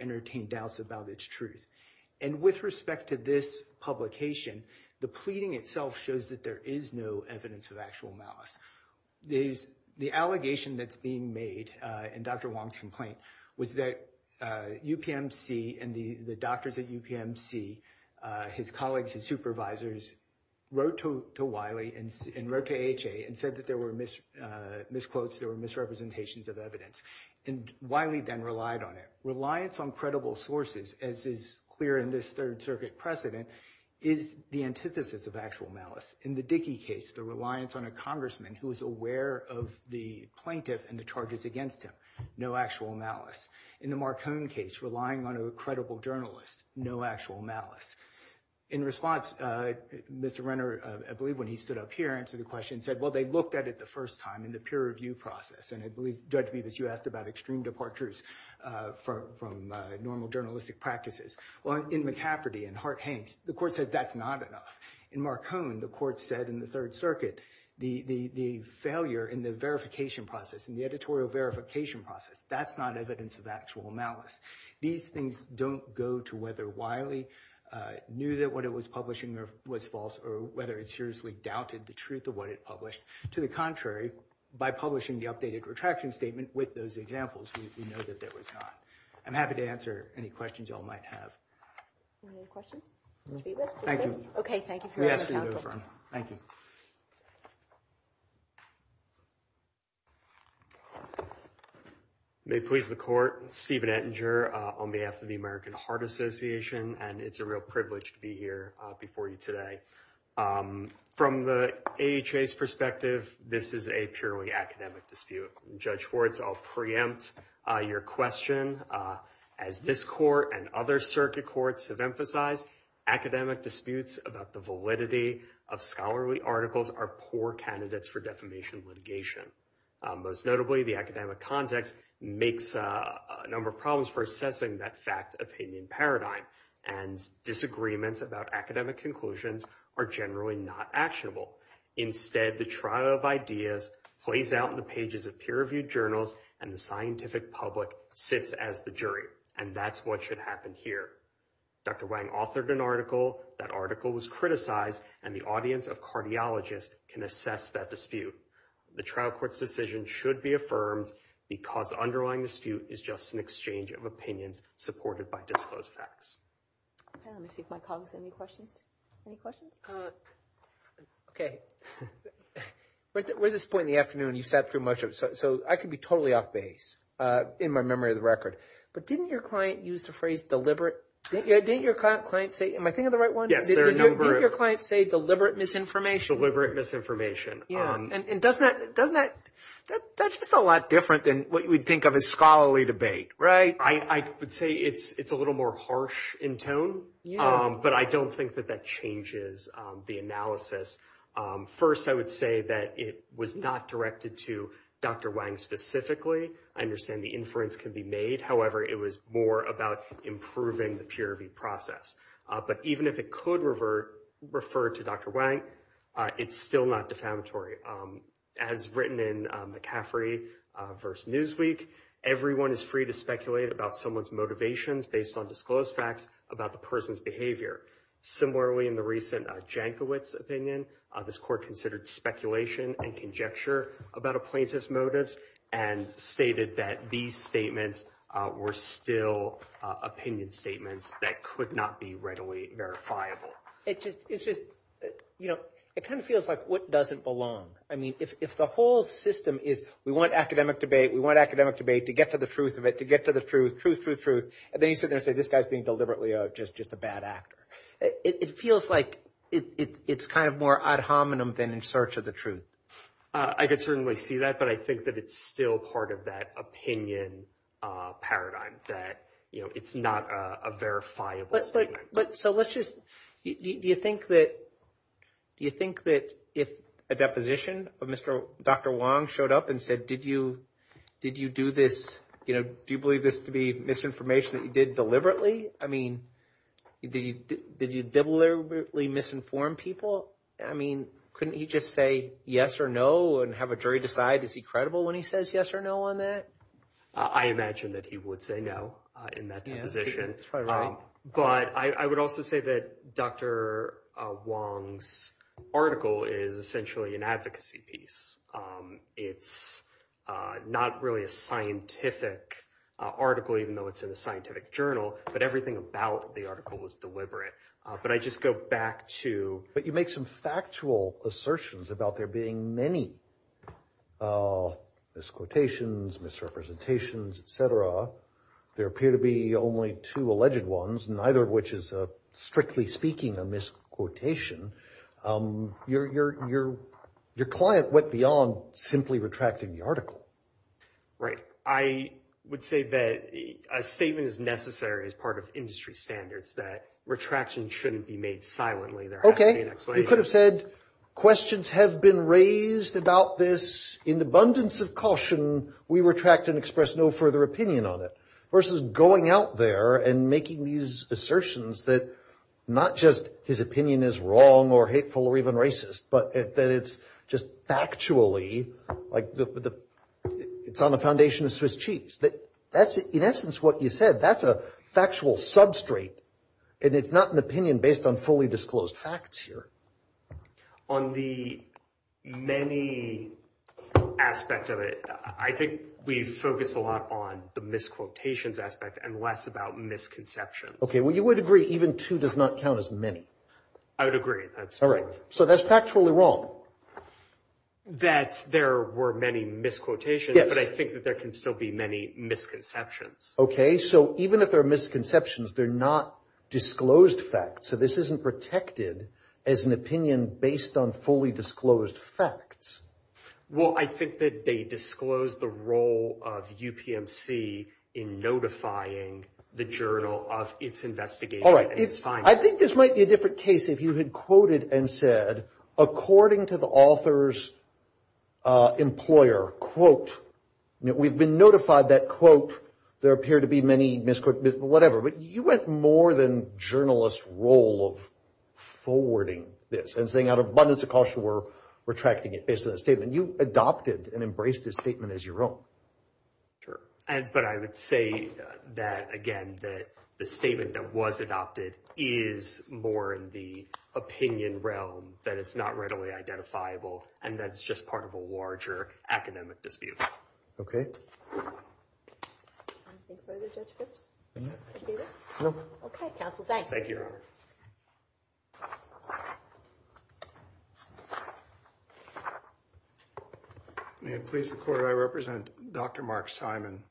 entertain doubts about the truth. With respect to actual that UPMC and the doctors at UPMC wrote to Wiley and wrote to AHA and said there were misquotes and misrepresentations of evidence. Reliance on credible sources as is clear in this third circuit precedent is the antithesis of actual malice. In the case, no actual malice. In the Marcon case, no actual malice. In response, Mr. Renner said they looked at the extreme departures from normal journalistic practices. The court said that's not enough. In Marcon, the third circuit, the failure in the verification process, that's not evidence of actual malice. These things don't go to whether the court or not. I'm happy to answer any questions you all might have. Thank you. Thank you. Thank you. May it please the court, Stephen Ettinger on behalf of the American Heart Association. It's a privilege to be here before you today. From the AHA's this is a purely academic dispute. Judge Fords, I'll preempt your question. Academic disputes about the validity of scholarly articles are poor candidates for defamation litigation. Most notably, the academic context makes a number of problems for assessing that fact and the scientific public sits as the jury and that's what should happen here. Wang authored an article that article was criticized and the audience of cardiologists can assess that dispute. The trial court's decision should be affirmed because underlying dispute is just an exchange of opinions supported by disclosed facts. Let me see if my colleagues have any questions. Any questions? Okay. We're at this point in the afternoon and you've sat through much of it so I could be totally off base in my memory of the record but didn't your client use the phrase deliberate am I thinking of the right one? Didn't your client say deliberate misinformation? Deliberate misinformation. That's a lot different than what you would think of as deliberate It's a little more harsh in tone. But I don't think that that changes the analysis. First I would say that it was not directed to Dr. Wang specifically. I understand the inference can be made however it was more about improving the peer review process. But even if it could refer to Dr. Wang it's still not defamatory. As written in McCaffrey verse Newsweek everyone is free to speculate about someone's motivations based on disclosed facts about the person's Similarly in the recent opinion this court considered speculation and conjecture about plaintiff's motives and stated that these statements were still opinion statements that could not be readily verifiable. It's just you know it kind of feels like what does it belong? If the whole system is we want academic debate to get to the truth of it to get to the truth, then you say this guy is being deliberately a bad actor. It feels like it's more ad hominem than in search of the truth. I think it's still part of that opinion paradigm that it's not a verifiable thing. So let's just do you think that if a deposition of Dr. Wong showed up and said did you do this do you believe this to be misinformation that you did deliberately? Did you deliberately misinform people? Couldn't he just say yes or no and have a jury decide is he credible when he says yes or no on that? I imagine he would say no. But I would also say that Dr. Wong's article is essentially an advocacy piece. It's not really a article even though it's in a journal but everything about the article is deliberate. But I just go back to... You make some factual assertions about there being many misquotations, misrepresentations, et cetera. There appear to be only two alleged ones, neither of which is strictly speaking a misquotation. Your client went beyond simply retracting the Right. I would say that a statement is not standards that retraction shouldn't be made silently. You could have said questions have been raised about this in abundance of caution, we retract and express no further opinion on it versus going out there and making these assertions that not just his opinion is wrong or inaccurate, and it's not an opinion based on fully disclosed facts here. On the many aspect of it, I think we focus a lot on the misquotations aspect and less about misconceptions. Okay, well you would agree even two does not count as many. I would agree. So that's factually wrong. That there were many misquotations, but I think there can still be many misconceptions. Okay, so even if there are misconceptions, they're not disclosed facts, so this isn't protected as an opinion based on fully disclosed facts. Well, I think that they disclose the role of UPMC in notifying the journal of its investigation. I think this might be a different case if you quoted and said according to the author's employer, quote, we've been notified that quote, there appear to be many misquotations, whatever, but you went more than journalist role of forwarding this and saying out of abundance misquotation of the and that adopted and embraced this statement as your own. But I would say that again that the that was adopted is more in the realm than it's not readily identifiable and that's just part of a larger academic dispute. Okay. Okay, counsel, thank you. Thank you. May I please report I represent Dr. Mark Simon.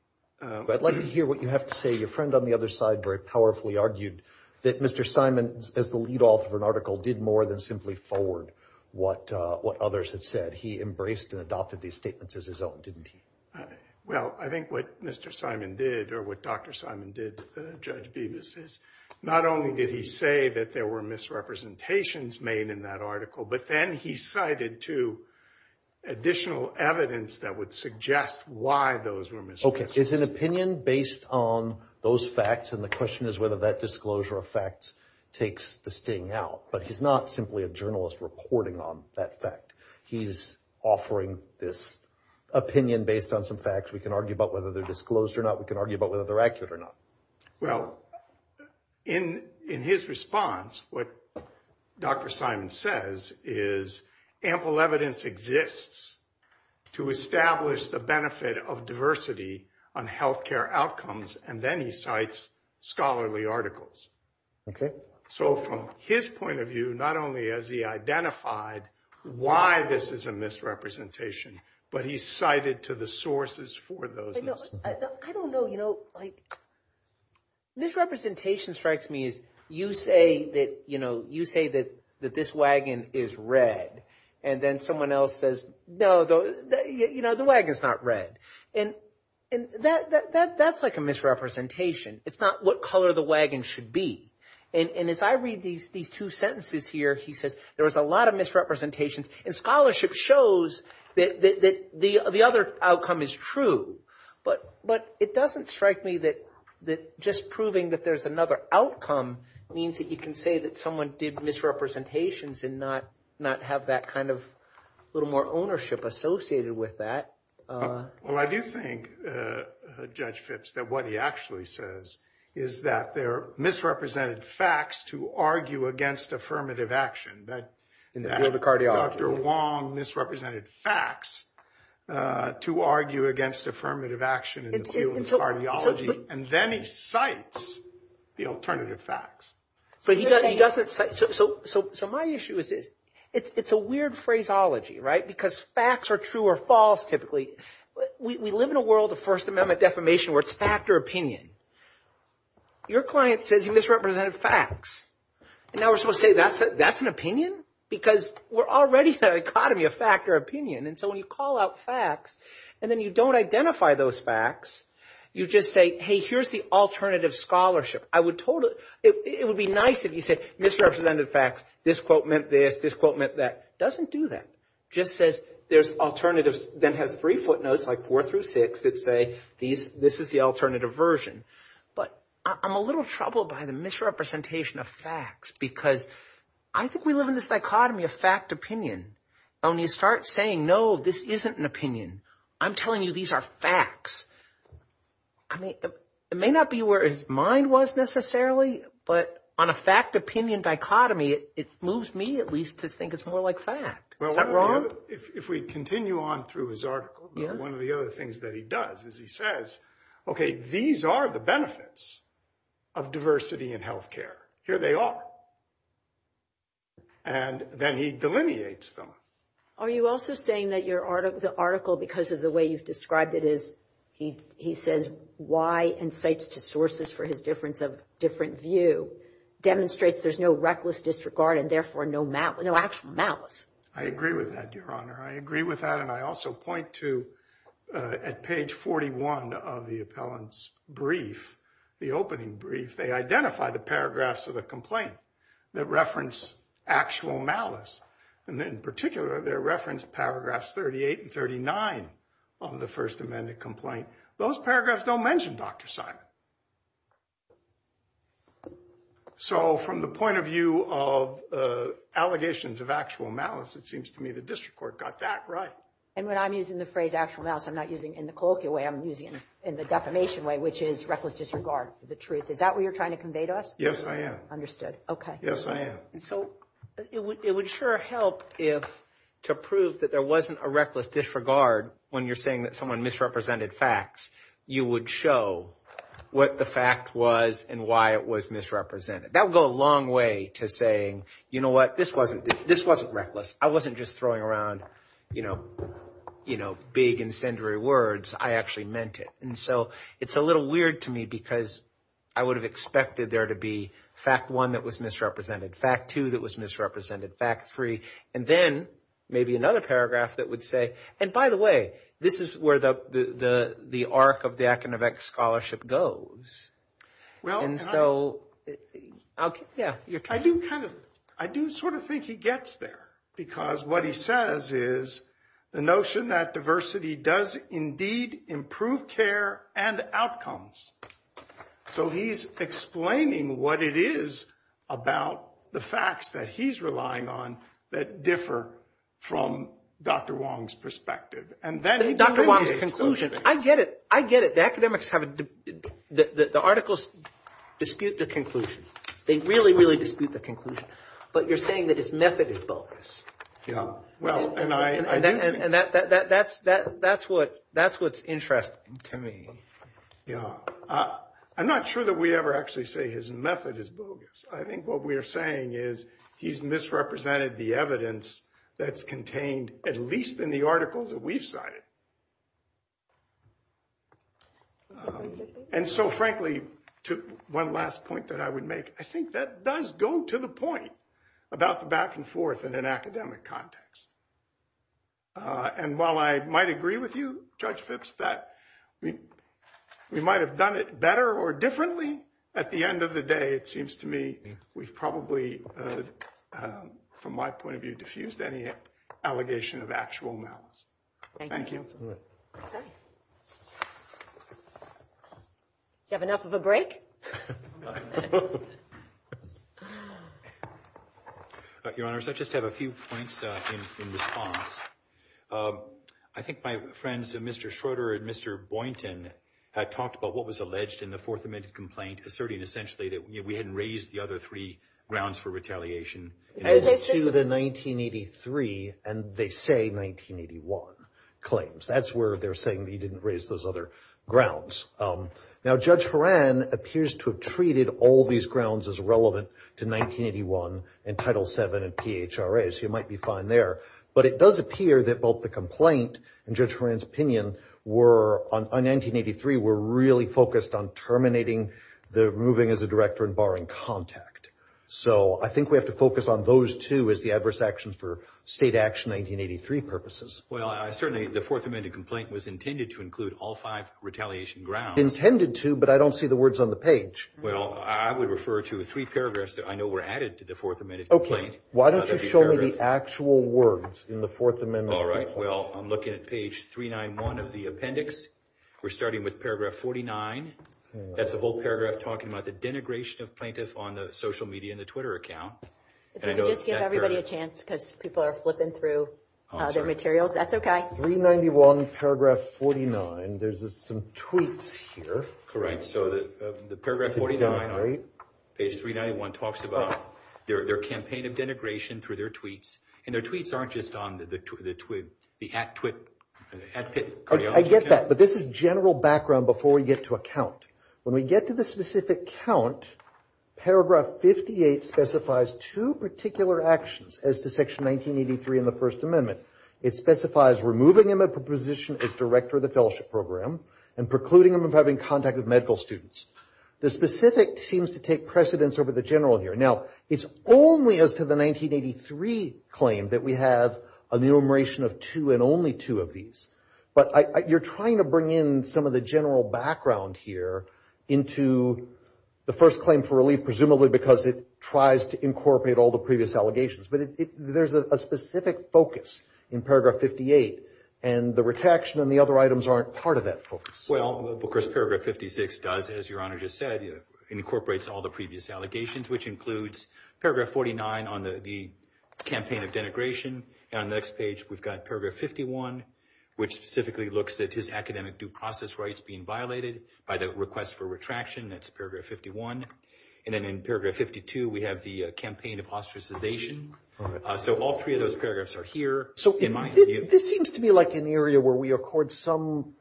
I'd like to hear what you have to say. Your friend on the other side very powerfully argued that Mr. Simon as the lead counsel of an article did more than simply forward what others had said. He embraced and adopted these statements as his own, didn't he? Well, I think what Mr. Simon did or what Dr. Simon did not only did he say that there were misrepresentations made in that article but then he cited two additional evidence that would suggest why those were misrepresentations. Okay. Is an opinion based on those facts and the question is whether that disclosure of facts takes the sting out? But he's not simply a journalist reporting on that fact. He's offering this opinion based on some We can argue about whether they're disclosed or not. We can argue about whether they're accurate or not. Well, in his response, what Dr. Simon says is ample evidence exists to establish the benefit of diversity on health care outcomes and then he cites scholarly articles. Okay. So from his point of view, not only has he identified why this is a misrepresentation but he's cited to the sources for those. I don't know. Misrepresentation strikes me as you say that this wagon is red and then someone else says no, the wagon is not red. And that's like a misrepresentation. It's not what color the wagon should be. And if I read these two sentences here, he said there was a lot of misrepresentation and scholarship shows that the other outcome is true. But it doesn't strike me that just proving that there's another outcome means that you can say that someone did misrepresentations and not have that kind of little more ownership associated with that. Well, I do think, Judge Phipps, that what he actually says is that there are misrepresented facts to argue against affirmative action in the field of cardiology. And then he cites the alternative facts. So my issue is it's a weird phraseology, right? Because facts are true or typically. We live in a world of First Amendment defamation where it's fact or opinion. Your client says he misrepresented facts. And now we're supposed to say that's an opinion? Because we're already in a dichotomy of fact or opinion. And so when you call out facts and then you don't identify those facts, you just say, hey, here's the alternative scholarship. It would be nice if you said misrepresented facts, this quote meant this, this quote meant that. It doesn't do that. It just says there's alternatives that have three footnotes like four through six that say this is the alternative version. But I'm a little troubled by the misrepresentation of facts because I think we live in this dichotomy of fact opinion. When you start saying, no, this isn't an opinion, I'm telling you these are facts. It may not be where his mind was necessarily, but on a different level. If we continue on through his article, one of the other things he does is he says, okay, these are the benefits of diversity in health care. Here they are. And then he delineates them. Are you also saying that the article because of the way you described it is he says why insights to sources for his difference of different view demonstrates there's no reckless disregard and therefore no malice. I agree with that, your honor. I also point to at page 41 of the appellant's brief, the opening brief, they identify the paragraphs of the complaint that reference actual malice. In particular, they reference paragraphs 38 and 39 on the first amendment complaint. Those paragraphs don't mention Dr. Simon. So from the point of view of allegations of actual malice, it seems to me the district court got that right. And when I'm using the phrase actual malice, I'm not using it in the colloquial way, I'm using it in the definition way. Is that what you're trying to convey to us? Yes, I am. Understood. Yes, I am. It would sure help to prove there wasn't a misrepresentation This wasn't reckless. I wasn't just throwing around big incendiary words. I actually meant it. It's a little weird to me because I would have expected there to be fact one that was misrepresented, fact two that was misrepresented, fact three, and then maybe another paragraph that would say, and by the way, this is where the arc of the scholarship goes. I do sort of think he gets there because what he says is the notion that diversity does indeed improve care and outcomes. So he's explaining what it is about the facts that he's relying on that differ from Dr. Wong's Dr. Wong's conclusion. I get it. I get it. have a the articles dispute the conclusion. They really, really dispute the conclusion. But you're saying that his method is bogus. And that's what's interesting to me. I'm not sure that we ever actually say his method is bogus. I think what we're saying is he's misrepresented the evidence that's contained at least in the articles that we've cited. And so frankly, one last point that I would make, I think that does go to the point about the back and forth in an academic context. And while I might agree with you, Judge Phipps, that we might have done it better or more refused any allegations of actual malice. Thank you. Do you have enough of a break? Your Honor, I just have a few points in response. I think my friends of Mr. Schroeder and Mr. Boynton had talked about what was alleged in the Fourth Amendment complaint, asserting essentially that we hadn't raised the other three grounds for retaliation. To the 1983, and they say 1981 claims. That's where they're saying he didn't raise those other grounds. Now, Judge Horan appears to have treated all these grounds as relevant to 1981 and Title VII and PHRA, so you might be fine there. But it does appear that both the complaint and Judge Horan's opinion were, in 1983, were really focused on terminating the moving as a director and barring contact. So I don't see the words on the page. I would refer to three paragraphs that I know were added to the Fourth Amendment. Okay. Why don't you show me the actual words in the Fourth Amendment? All right. Well, I'm looking at page 391 of the appendix. We're starting with paragraph 49. That's the denigration of plaintiffs on the social media and the Twitter account. Just give everybody a chance because people are flipping through their materials. That's okay. 391, paragraph 49. There's some tweets here. Correct. So the paragraph 49, page 391, talks about their campaign of denigration through their and their tweets aren't just on the social media. I get that, but this is general background before we get to a count. When we get to the specific count, paragraph 58 specifies two particular actions as to section 1983 in the First Amendment. It specifies removing them from position as director of the fellowship program and precluding them from having contact with medical students. The specific seems to take precedence over the general here. Now, it's only up to the 1983 claim that we have an enumeration of two and only two of these, but you're trying to bring in some of the general background here into the first claim for relief, presumably because it tries to all the previous allegations, but there's a specific focus in paragraph 58, and the next page we've got paragraph 59, which specifically looks at his academic due process rights being violated by the request for retraction, that's paragraph 51, and then in paragraph 52 we have the campaign of ostracization, so all three of those paragraphs are here. This seems to be like an area where we accord some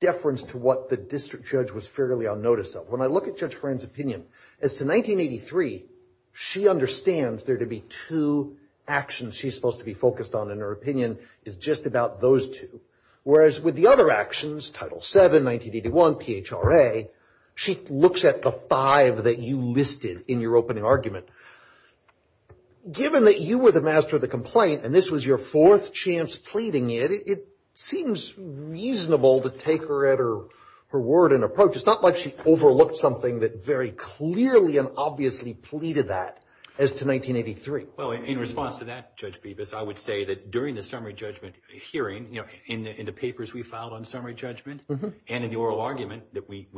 deference to what the district judge was fairly unnoticed of. When I look at Judge Horan's opinion, as to 1983, she understands there to be two actions she's supposed to be focused on, and her opinion is just about those two, whereas with the other actions, Title VII, 1981, THRA, she looks at the five that you listed in your opening argument. Given that you were the master of the and this was your fourth chance pleading it, it seems reasonable to take her at her word and approach. It's not like she overlooked something that very clearly and obviously pleaded that as to 1983. In response to that, I would say during the summary judgment hearing, in the papers we filed on summary judgment and in the oral argument that we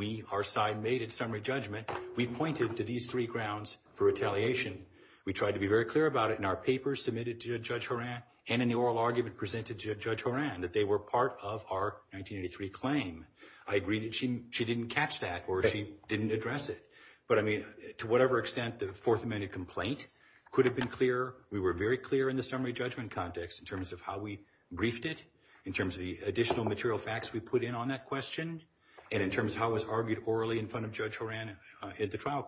pointed to these three grounds for retaliation. We tried to be very clear about it in our papers submitted to Judge Horan and in the oral argument presented to Judge Horan that they were part of our claim. I agree that she didn't catch that or didn't address it. But to whatever extent the fourth amendment complaint could have been clear, we were very clear in the summary judgment context in terms of how we briefed it and how it was argued in front of Judge Horan at the hearing.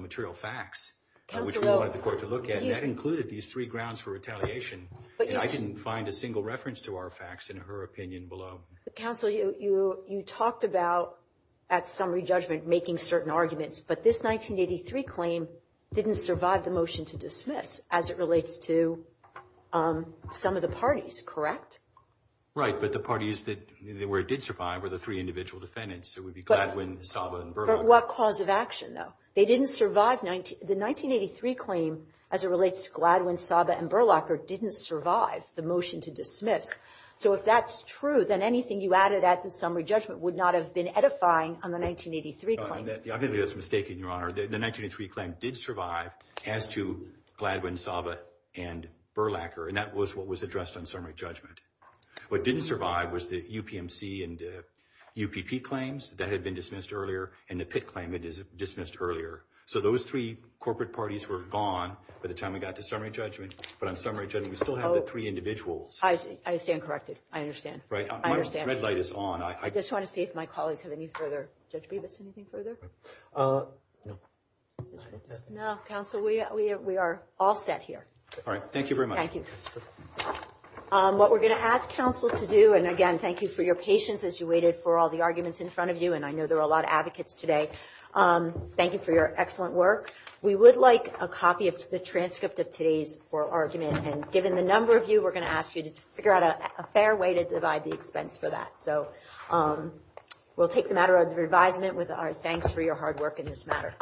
material facts. That included these three grounds for retaliation. I didn't find a single reference to our facts in her opinion below. You talked about making certain arguments but this 1983 claim didn't survive. three individual defendants. They didn't survive. 1983 claim didn't survive. If that's true, added to the summary judgment would not have been edifying the 1983 claim. 1983 claim did survive. That was addressed on summary judgment. What didn't survive was the claims that were dismissed earlier. Those three corporate parties were gone. I understand correctly. understand. I just want to see if my colleagues have anything further. Counsel, we are all set here. What we're going to ask counsel to do and thank you for your patience and I know there are a lot of questions take the matter of revising it with our thanks for your hard work in this matter.